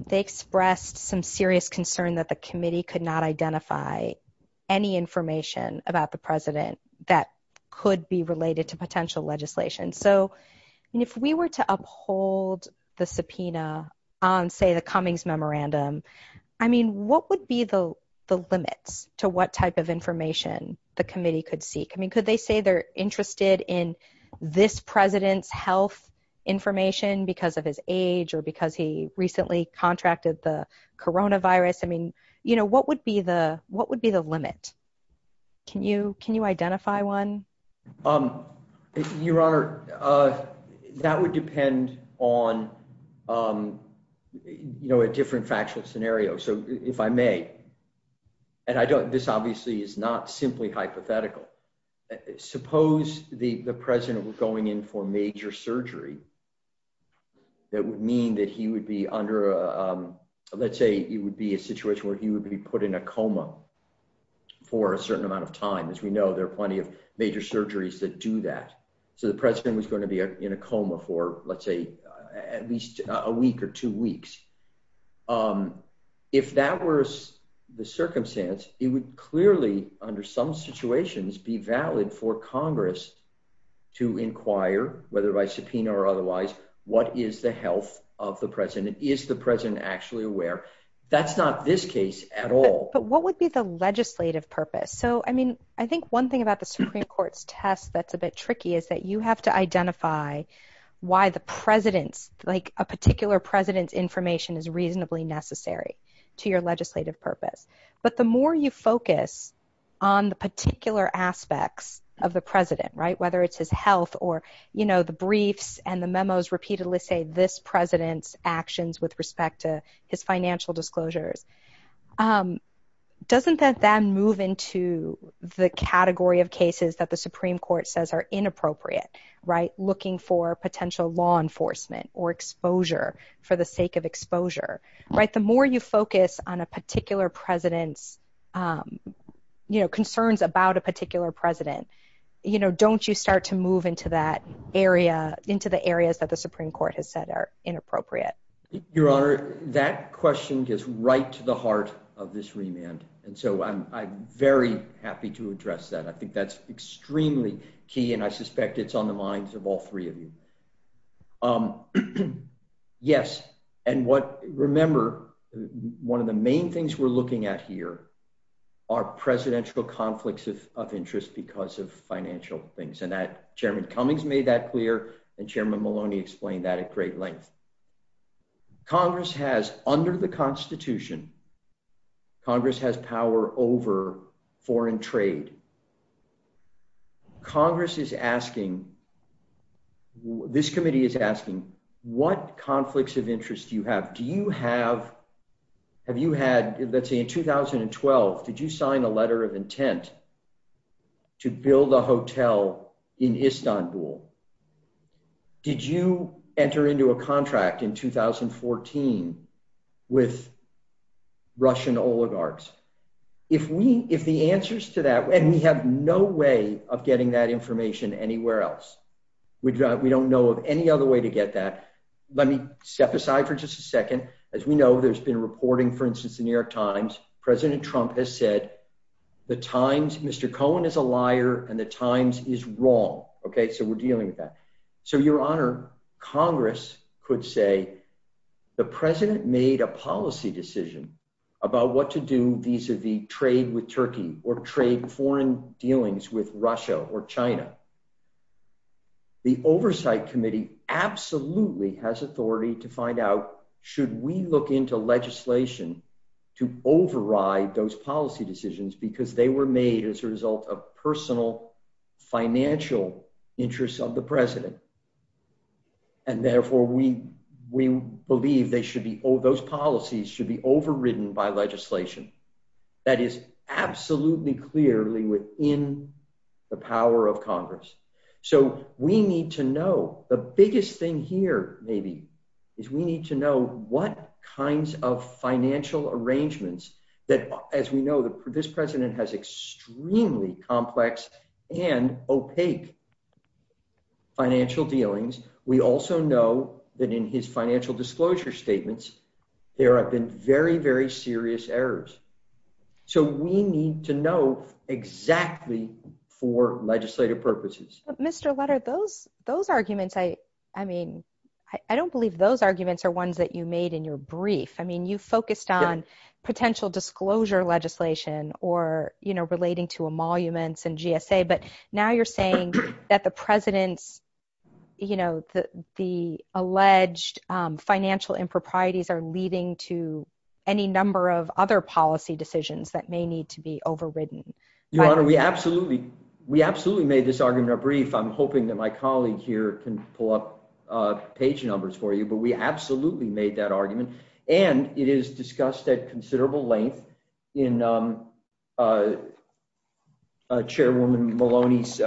they expressed some serious concern that the committee could not identify any information about the president that could be related to potential legislation. So if we were to uphold the subpoena on, say, the Cummings memorandum, I mean, what would be the limits to what type of information the committee could seek? I mean, could they say they're interested in this president's health information because of his age or because he recently contracted the Corona virus? I mean, you know, what would be the what would be the limit? Can you can you identify one? You are. That would depend on a different factual scenario. So if I may and I don't this obviously is not simply hypothetical. Suppose the president was going in for major surgery. That would mean that he would be under a let's say it would be a situation where he would be put in a coma for a certain amount of time. As we know, there are plenty of major surgeries that do that. So the president was going to be in a coma for, let's say, at least a week or two weeks. If that were the circumstance, it would clearly under some situations be valid for Congress to inquire, whether by subpoena or otherwise, what is the health of the president? Is the president actually aware? That's not this case at all. But what would be the legislative purpose? So, I mean, I think one thing about the Supreme Court's test that's a bit tricky is that you have to identify why the president's like a particular president's information is reasonably necessary to your legislative purpose. But the more you focus on the particular aspects of the president, right, whether it's his health or, you know, the briefs and the memos repeatedly say this is the president's actions with respect to his financial disclosures, doesn't that then move into the category of cases that the Supreme Court says are inappropriate, right, looking for potential law enforcement or exposure for the sake of exposure, right? The more you focus on a particular president's, you know, concerns about a particular president, you know, don't you start to move into that area, into the areas that the Supreme Court has said are inappropriate? Your Honor, that question gets right to the heart of this remand, and so I'm very happy to address that. I think that's extremely key, and I suspect it's on the minds of all three of you. Yes, and what, remember, one of the main things we're looking at here are presidential conflicts of interest because of financial things, and Chairman Cummings made that clear, and Chairman Maloney explained that at great length. Congress has, under the Constitution, Congress has power over foreign trade. Congress is asking, this committee is asking, what conflicts of interest do you have? Do you have, have you had, let's say in 2012, did you sign a letter of intent to build a hotel in Istanbul? Did you enter into a contract in 2014 with Russian oligarchs? If the answers to that, and we have no way of getting that information anywhere else, we don't know of any other way to get that. Let me step aside for just a second. As we know, there's been reporting, for instance, in the New York Times, President Trump has said, the Times, Mr. Cohen is a liar, and the Times is wrong, okay, so we're dealing with that. So, Your Honor, Congress could say, the President made a policy decision about what to do vis-a-vis trade with Turkey, or trade foreign dealings with Russia or China. The Oversight Committee absolutely has authority to find out, should we look into legislation to override those policy decisions, because they were made as a result of personal financial interests of the President, and therefore we believe those policies should be overridden by legislation. That is absolutely clearly within the power of Congress. So, we need to know, the biggest thing here maybe, is we need to know what kinds of financial arrangements that, as we know, this President has extremely complex and opaque financial dealings. We also know that in his financial disclosure statements, there have been very, very serious errors. So, we need to know exactly for legislative purposes. Mr. Lutter, those arguments, I mean, I don't believe those arguments are ones that you made in your brief. I mean, you focused on financial emoluments and GSA, but now you're saying that the President's, you know, the alleged financial improprieties are leading to any number of other policy decisions that may need to be overridden. Your Honor, we absolutely made this argument in our brief. I'm hoping that my colleague here can pull up page numbers for you, but we absolutely made that argument, and it is discussed at considerable length in Chairwoman Maloney's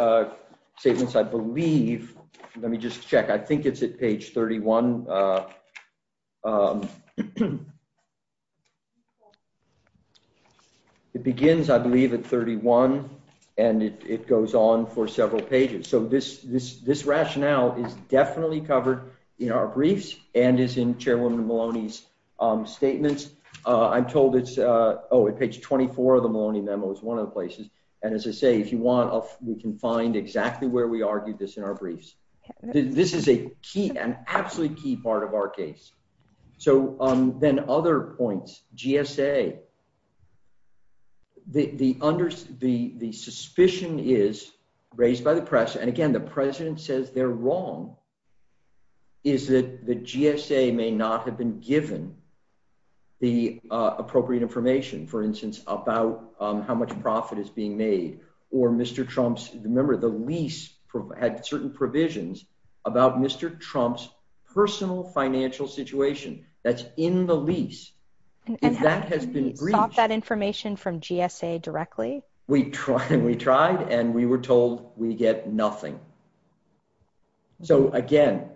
statements, I believe. Let me just check. I think it's at page 31. It begins, I believe, at 31, and it goes on for several pages. So, this rationale is definitely covered in our briefs and is in Chairwoman Maloney's statements. I'm told it's, oh, at page 24 of the Maloney memo is one of the places, and as I say, if you want, we can find exactly where we argued this in our briefs. This is a key, an absolutely key part of our case. So, then other points. GSA, the suspicion is raised by the press, and again, the President says they're wrong, is that the GSA may not have been given the appropriate information, for instance, about how much profit is being made or Mr. Trump's, remember, the lease had certain provisions about Mr. Trump's personal financial situation that's in the lease. And has he sought that information from GSA directly? We tried, and we were told we get nothing. So, again,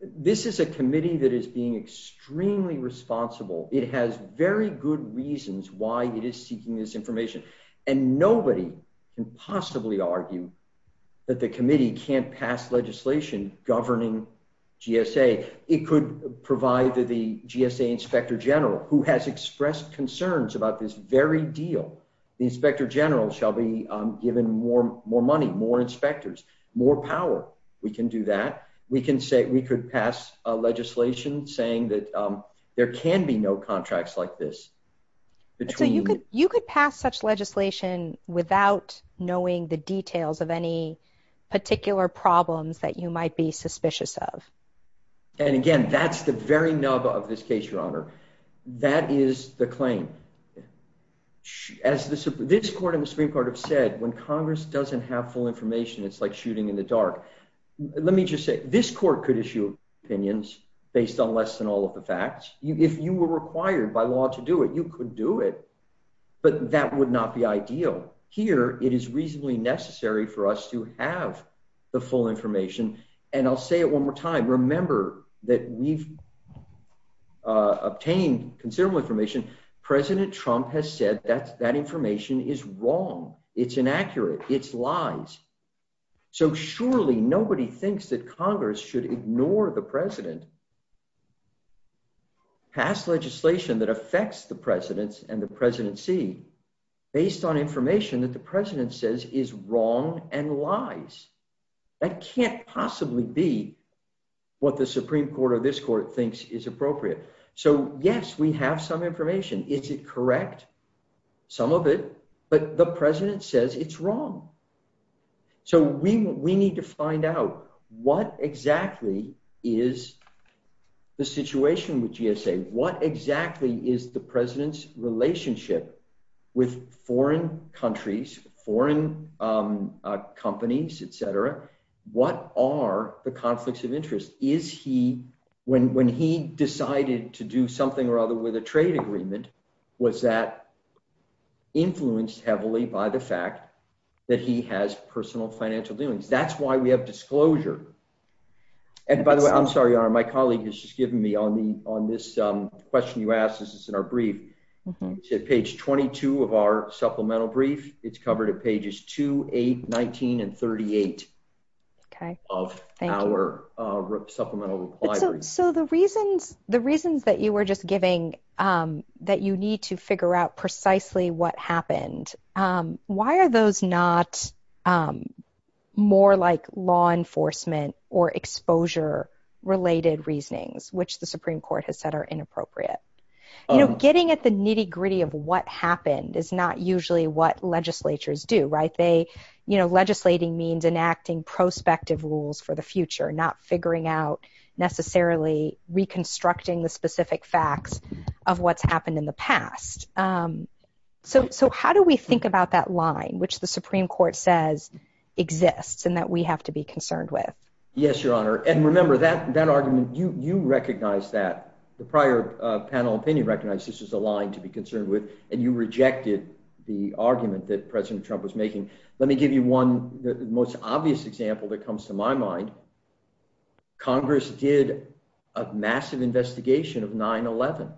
this is a committee that is being extremely responsible. It has very good reasons why it is seeking this information, and nobody can possibly argue that the committee can't pass legislation governing GSA. It could provide the GSA Inspector General, who has expressed concerns about this very deal. The Inspector General shall be given more money, more inspectors, more power. We can do that. We could pass legislation saying that there can be no contracts like this. You could pass such legislation without knowing the details of any particular problems that you might be suspicious of. And again, that's the very nub of this case, Your Honor. That is the claim. As this Court and the Supreme Court have said, when Congress doesn't have full information, it's like shooting in the dark. Let me just say, this Court could issue opinions based on less than all of the facts. If you were required by law to do it, you could do it. But that would not be ideal. Here, it is reasonably necessary for us to have the full information. And I'll say it one more time. Remember that we've obtained considerable information. President Trump has said that that information is wrong. It's inaccurate. It's lies. So surely nobody thinks that Congress should ignore the President. Pass legislation that affects the Presidents and the Presidency based on information that the President says is wrong and lies. That can't possibly be what the Supreme Court or this Court thinks is appropriate. So yes, we have some information. Is it correct? Some of it. But the President says it's wrong. So we need to find out what exactly is the situation with GSA? What exactly is the President's relationship with foreign countries, foreign companies, etc.? What are the conflicts of interest? When he decided to do something or other with a trade agreement, was that influenced heavily by the fact that he has personal financial duties? That's why we have disclosure. And by the way, I'm sorry, my colleague has just given me on this question you asked. This is in our brief. It's at page 22 of our supplemental brief. It's covered at pages 2, 8, 19, and 38 of our supplemental requirements. So the reasons that you were just giving that you need to figure out precisely what happened, why are those not more like law enforcement or exposure related reasonings, which the Supreme Court has said are inappropriate? Getting at the nitty gritty. Legislating means enacting prospective rules for the future, not figuring out necessarily reconstructing the specific facts of what's happened in the past. So how do we think about that line, which the Supreme Court says exists and that we have to be concerned with? Yes, Your Honor. And remember, that argument, you recognize that. The prior panel opinion recognizes this as a line to be concerned with, and you rejected the argument that President Trump was making. Let me give you one most obvious example that comes to my mind. Congress did a massive investigation of 9-11.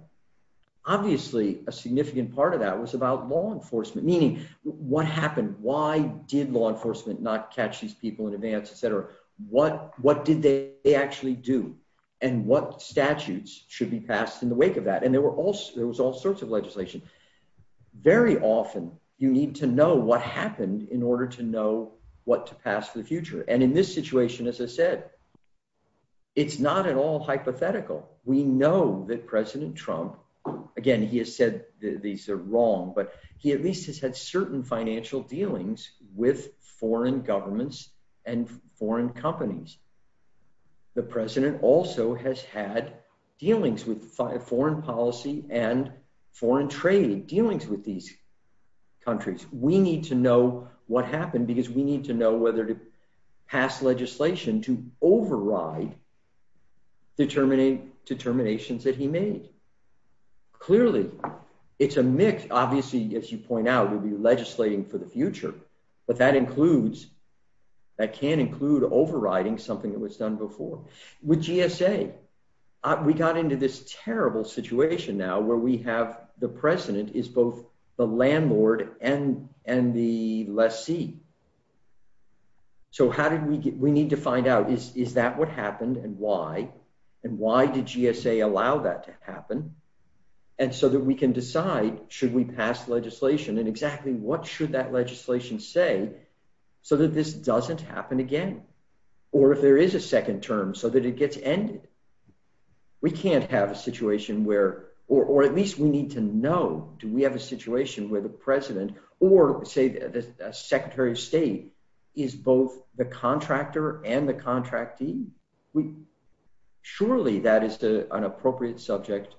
Obviously, a significant part of that was about law enforcement. Meaning, what happened? Why did law enforcement not catch these people in advance, etc.? What did they actually do? And what statutes should be passed in the wake of that? And there was all sorts of legislation. Very often, you need to know what happened in order to know what to pass in the future. And in this situation, as I said, it's not at all hypothetical. We know that President Trump, again, he has said these are wrong, but he at least has had certain financial dealings with foreign governments and foreign companies. The President also has had dealings with foreign policy and foreign trade, dealings with these countries. We need to know what happened because we need to know whether to pass legislation to override determinations that he made. Clearly, it's a mix. Obviously, as you point out, we'll be legislating for the future, but that can't include overriding something that was done before. With GSA, we got into this terrible situation now where we have the President is both the landlord and the lessee. So we need to find out, is that what happened and why? And why did GSA allow that to happen? And so that we can decide, should we pass legislation? And exactly what should that legislation say so that this doesn't happen again? Or if there is a second term so that it gets ended? We can't have a situation where, or at least we need to know, do we have a situation where the President or, say, the Secretary of State is both the contractor and the contractee? Surely that is an appropriate subject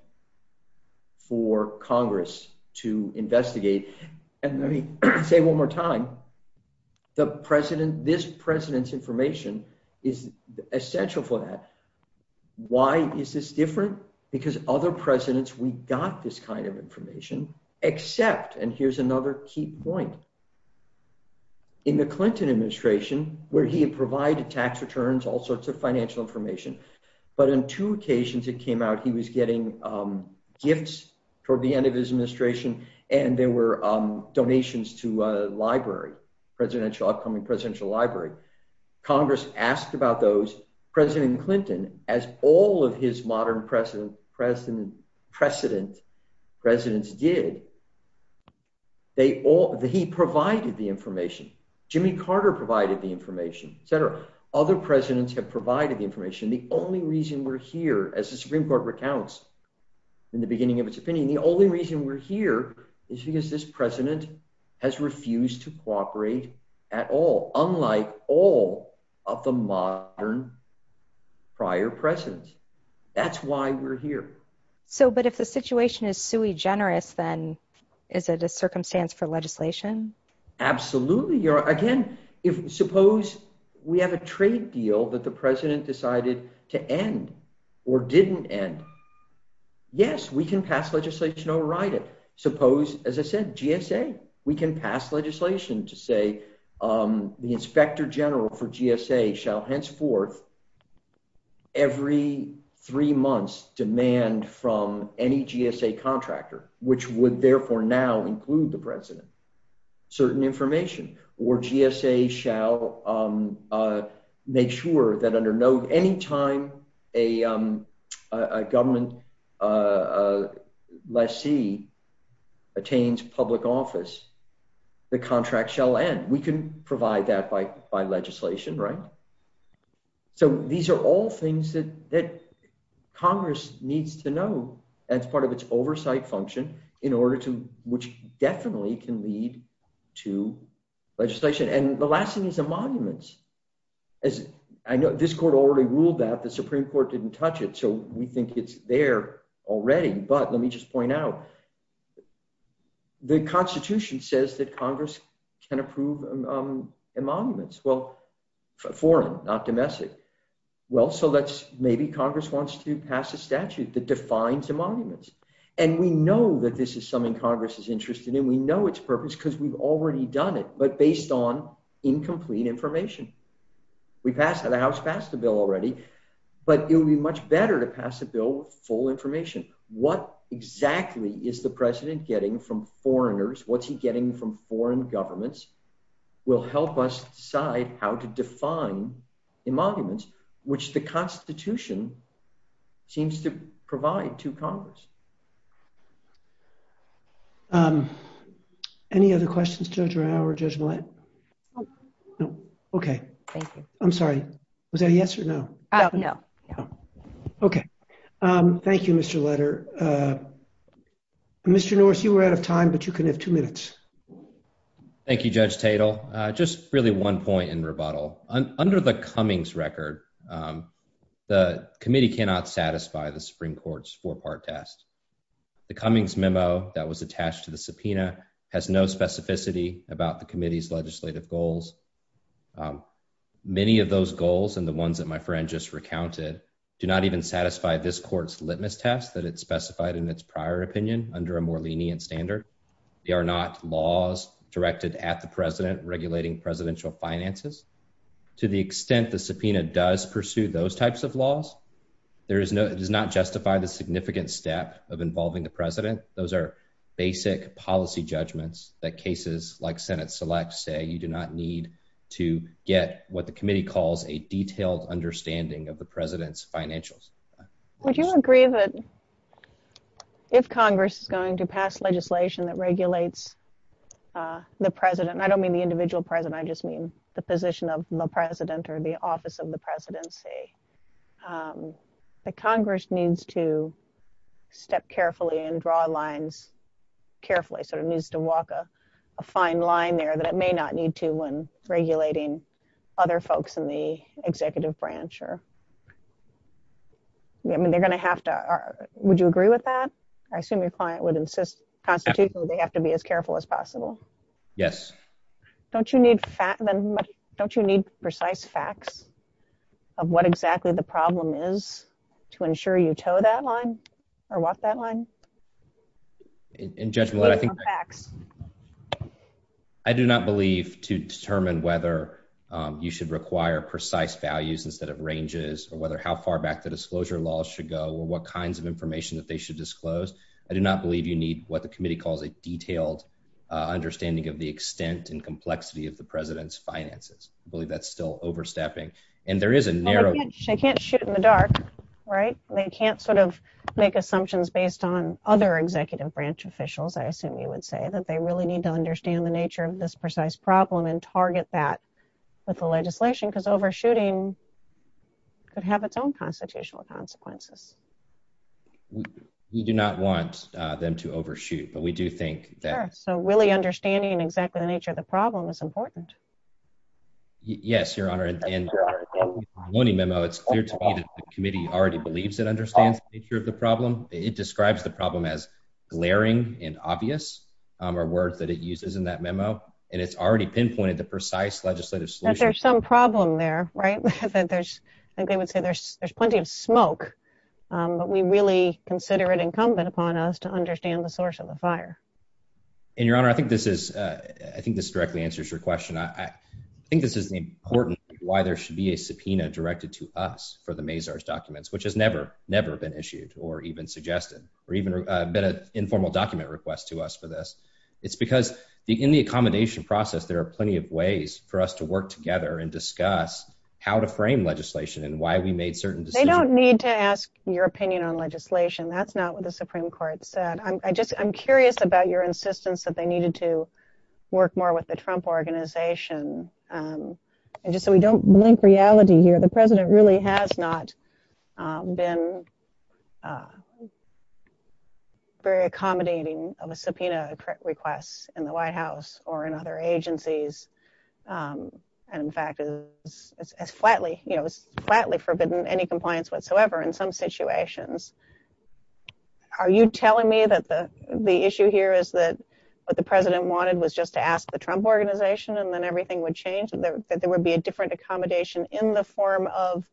for Congress to investigate. And let me say one more time, this President's information is essential for that. Why is this different? Because other Presidents, we got this kind of information in the Clinton administration where he provided tax returns, all sorts of financial information. But on two occasions it came out he was getting gifts toward the end of his administration and there were donations to a library, Presidential Library. Congress asked about those. President Clinton, as all of his modern President's did, he provided the information. Jimmy Carter provided the information, etc. Other Presidents have provided the information. The only reason we're here, as the Supreme Court recounts in the beginning of its opinion, the only reason we're here is because this President has refused to cooperate at all, unlike all of the modern prior Presidents. That's why we're here. Absolutely. Again, suppose we have a trade deal that the President decided to end or didn't end. Yes, we can pass legislation to override it. Suppose, as I said, GSA, we can pass legislation to say the Inspector General for GSA shall henceforth every three months demand from any GSA contractor, which would therefore now include the President, certain information. Or GSA shall make sure that under no, any time a government lessee attains public office, the contract shall end. We can provide that by legislation. These are all things that Congress needs to know as part of its oversight function in order to, which definitely can lead to legislation. The last thing is the monuments. I know this court already ruled that. The Supreme Court didn't touch it, so we think it's there already, but let me just point out the Constitution says that Congress can approve monuments. Well, foreign, not domestic. Maybe Congress wants to pass a statute that defines a monument. We know that this is something Congress is interested in. We know its purpose because we've already done it, but based on incomplete information. The House passed the bill already, but it would be much better to pass a bill with full information. What exactly is the President getting from foreigners? What's he getting from foreign governments will help us decide how to define a monument, which the Constitution seems to provide to Congress. Any other questions? Okay. I'm sorry. Was that a yes or no? No. Okay. Thank you, Mr. Letter. Mr. North, you were out of time, but you can have two minutes. Thank you, Judge Tatel. Just really one point in rebuttal. Under the Cummings record, the committee cannot satisfy the Supreme Court's four-part test. The Cummings memo that was attached to the subpoena has no specificity about the committee's legislative goals. Many of those goals and the ones that my friend just recounted do not even satisfy this court's litmus test that it specified in its prior opinion under a more lenient standard. They are not laws directed at the president. The committee must pursue those types of laws. It does not justify the significant step of involving the president. Those are basic policy judgments that cases like Senate selects say you do not need to get what the committee calls a detailed understanding of the president's financials. Would you agree that if Congress is going to pass legislation that regulates the president, and I don't mean the individual president, I just mean the position of the president or the office of the presidency, that Congress needs to step carefully and draw lines carefully so it needs to walk a fine line there that it may not need to when regulating other folks in the executive branch? Would you agree with that? I assume your client would insist constitutionally they have to be as careful as possible. Don't you need precise facts of what exactly the problem is to ensure you toe that line or walk that line? I do not believe to determine whether you should require precise values instead of ranges or how far back the disclosure laws should go or what kinds of information they should disclose. I do not believe you need what the committee calls a detailed understanding of the extent and complexity of the president's finances. I believe that is still overstepping. They can't shoot in the dark. They can't make assumptions based on the facts of the president's finances. I do not believe that other executive branch officials, I assume you would say, that they really need to understand the nature of this precise problem and target that with the legislation because overshooting could have its own constitutional consequences. We do not want them to overshoot, but we do think that it is important to understand the nature of the problem. Yes, Your Honor. It is clear to me that the committee already believes it understands the nature of the problem. It describes the problem as glaring and obvious are words that it uses in that memo. It has already pinpointed the precise legislative solution. I think there is some problem there. There is plenty of smoke, but we really consider it incumbent upon us to understand the source of the fire. Your Honor, I think this directly answers your question. I think this is important why there should be a subpoena directed to us for the Mazars documents, which has never been issued or even suggested or even been an informal document request to us for this. It is because in the accommodation process, there are plenty of ways for us to work together and discuss how to frame legislation and why we made certain decisions. They do not need to ask your opinion on legislation. That is not what the Supreme Court said. I am curious about your insistence that they needed to work more with the Trump Organization. Just so we do not blink reality here, the President really has not been very accommodating of a subpoena request in the White House or in other agencies. In fact, it is flatly forbidden any compliance whatsoever in some situations. Are you telling me that the issue here is that what the President wanted was just to ask the Trump Organization and then everything would change? That there would be a different accommodation in the form of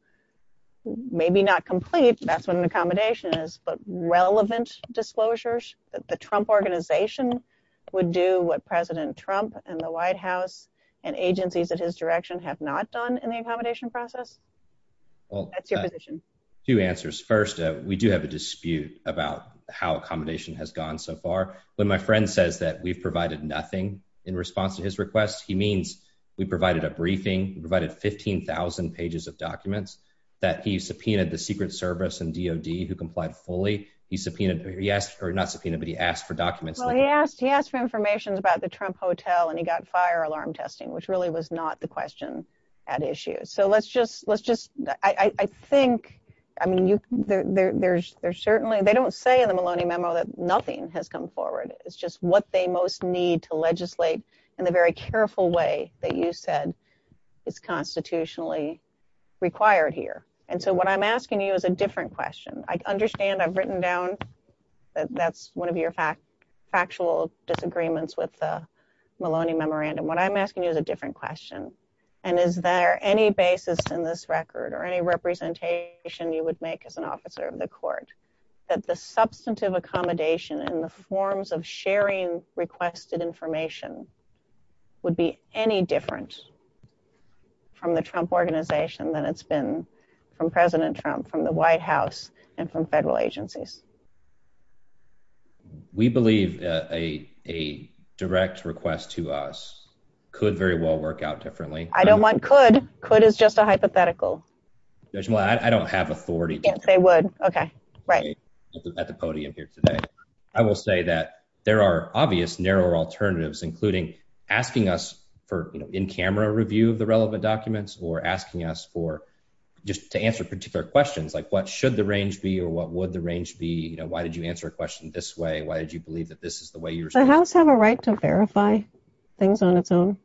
maybe not complete, that is what an accommodation is, but relevant disclosures that the Trump Organization would do what President Trump and the White House and agencies at his direction have not done in the accommodation process? Two answers. First, we do have a dispute about how accommodation has gone so far. When my friend says that we provided nothing in response to his request, he means we provided a briefing, we provided 15,000 pages of documents that he subpoenaed the Secret Service and DOD who complied fully. He subpoenaed, or not subpoenaed, but he asked for documents. He asked for information about the Trump Hotel and he got fire alarm testing, which really was not the question at issue. They do not say in the Maloney memo that nothing has come forward. It is just what they most need to legislate in a very careful way that you said is constitutionally required here. What I am asking you is a different question. I understand I have written down that that is one of your factual disagreements with the Maloney memorandum. What I am asking you is a different question. Is there any basis in this record or any representation you would make as an officer of the court to suggest that the substantive accommodation in the forms of sharing requested information would be any different from the Trump organization than it has been from President Trump, from the White House, and from federal agencies? We believe a direct request to us could very well work out differently. I don't want could. Could is just a hypothetical. I don't have authority. I will say that there are obvious narrower alternatives, including asking us for in-camera review of the relevant documents or asking us for just to answer particular questions like what should the range be or what would the range be? Why did you answer a question this way? Why did you believe that this is the way you have a right to verify things on its own,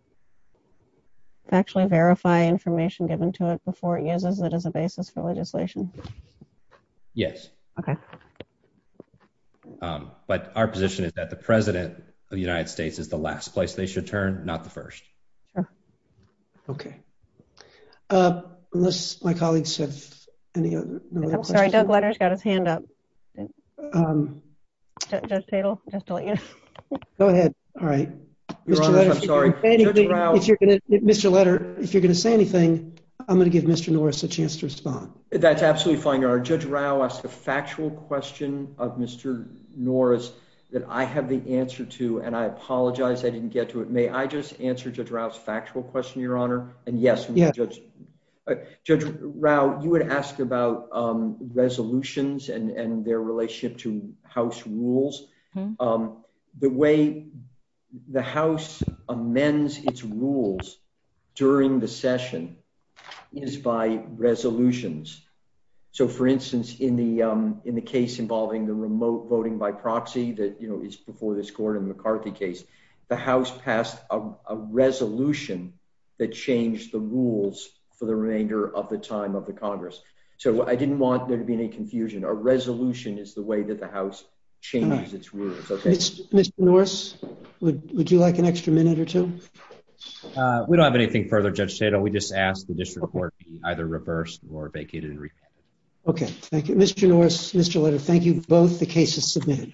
actually verify information given to it before it uses it as a basis for legislation? Yes. Okay. But our position is that the president of the United States is the last place they should turn, not the first. Okay. Unless my colleagues have any. I've got a hand up. Go ahead. All right. Mr. Letter, if you're going to say anything, I'm going to give Mr. Norris a chance to respond. That's absolutely fine. Judge Rowe asked a factual question of Mr. Norris that I have the answer to, and I apologize I didn't get to it. May I just answer Judge Rowe's factual question, Your Honor? Yes. Judge Rowe, you had asked about resolutions and their relationship to House rules. The way the House amends its rules during the session is by resolutions. So, for instance, in the case involving the remote voting by proxy that is before this Gordon McCarthy case, the House passed a resolution that changed the rules for the remainder of the time of the Congress. So I didn't want there to be any confusion. A resolution is the way that the House changes its rules. Mr. Norris, would you like an extra minute or two? We don't have anything further, Judge Cato. We just ask that this report be either reversed or vacated and refactored. Okay. Thank you. Mr. Norris, Mr. Letter, thank you to both the cases submitted.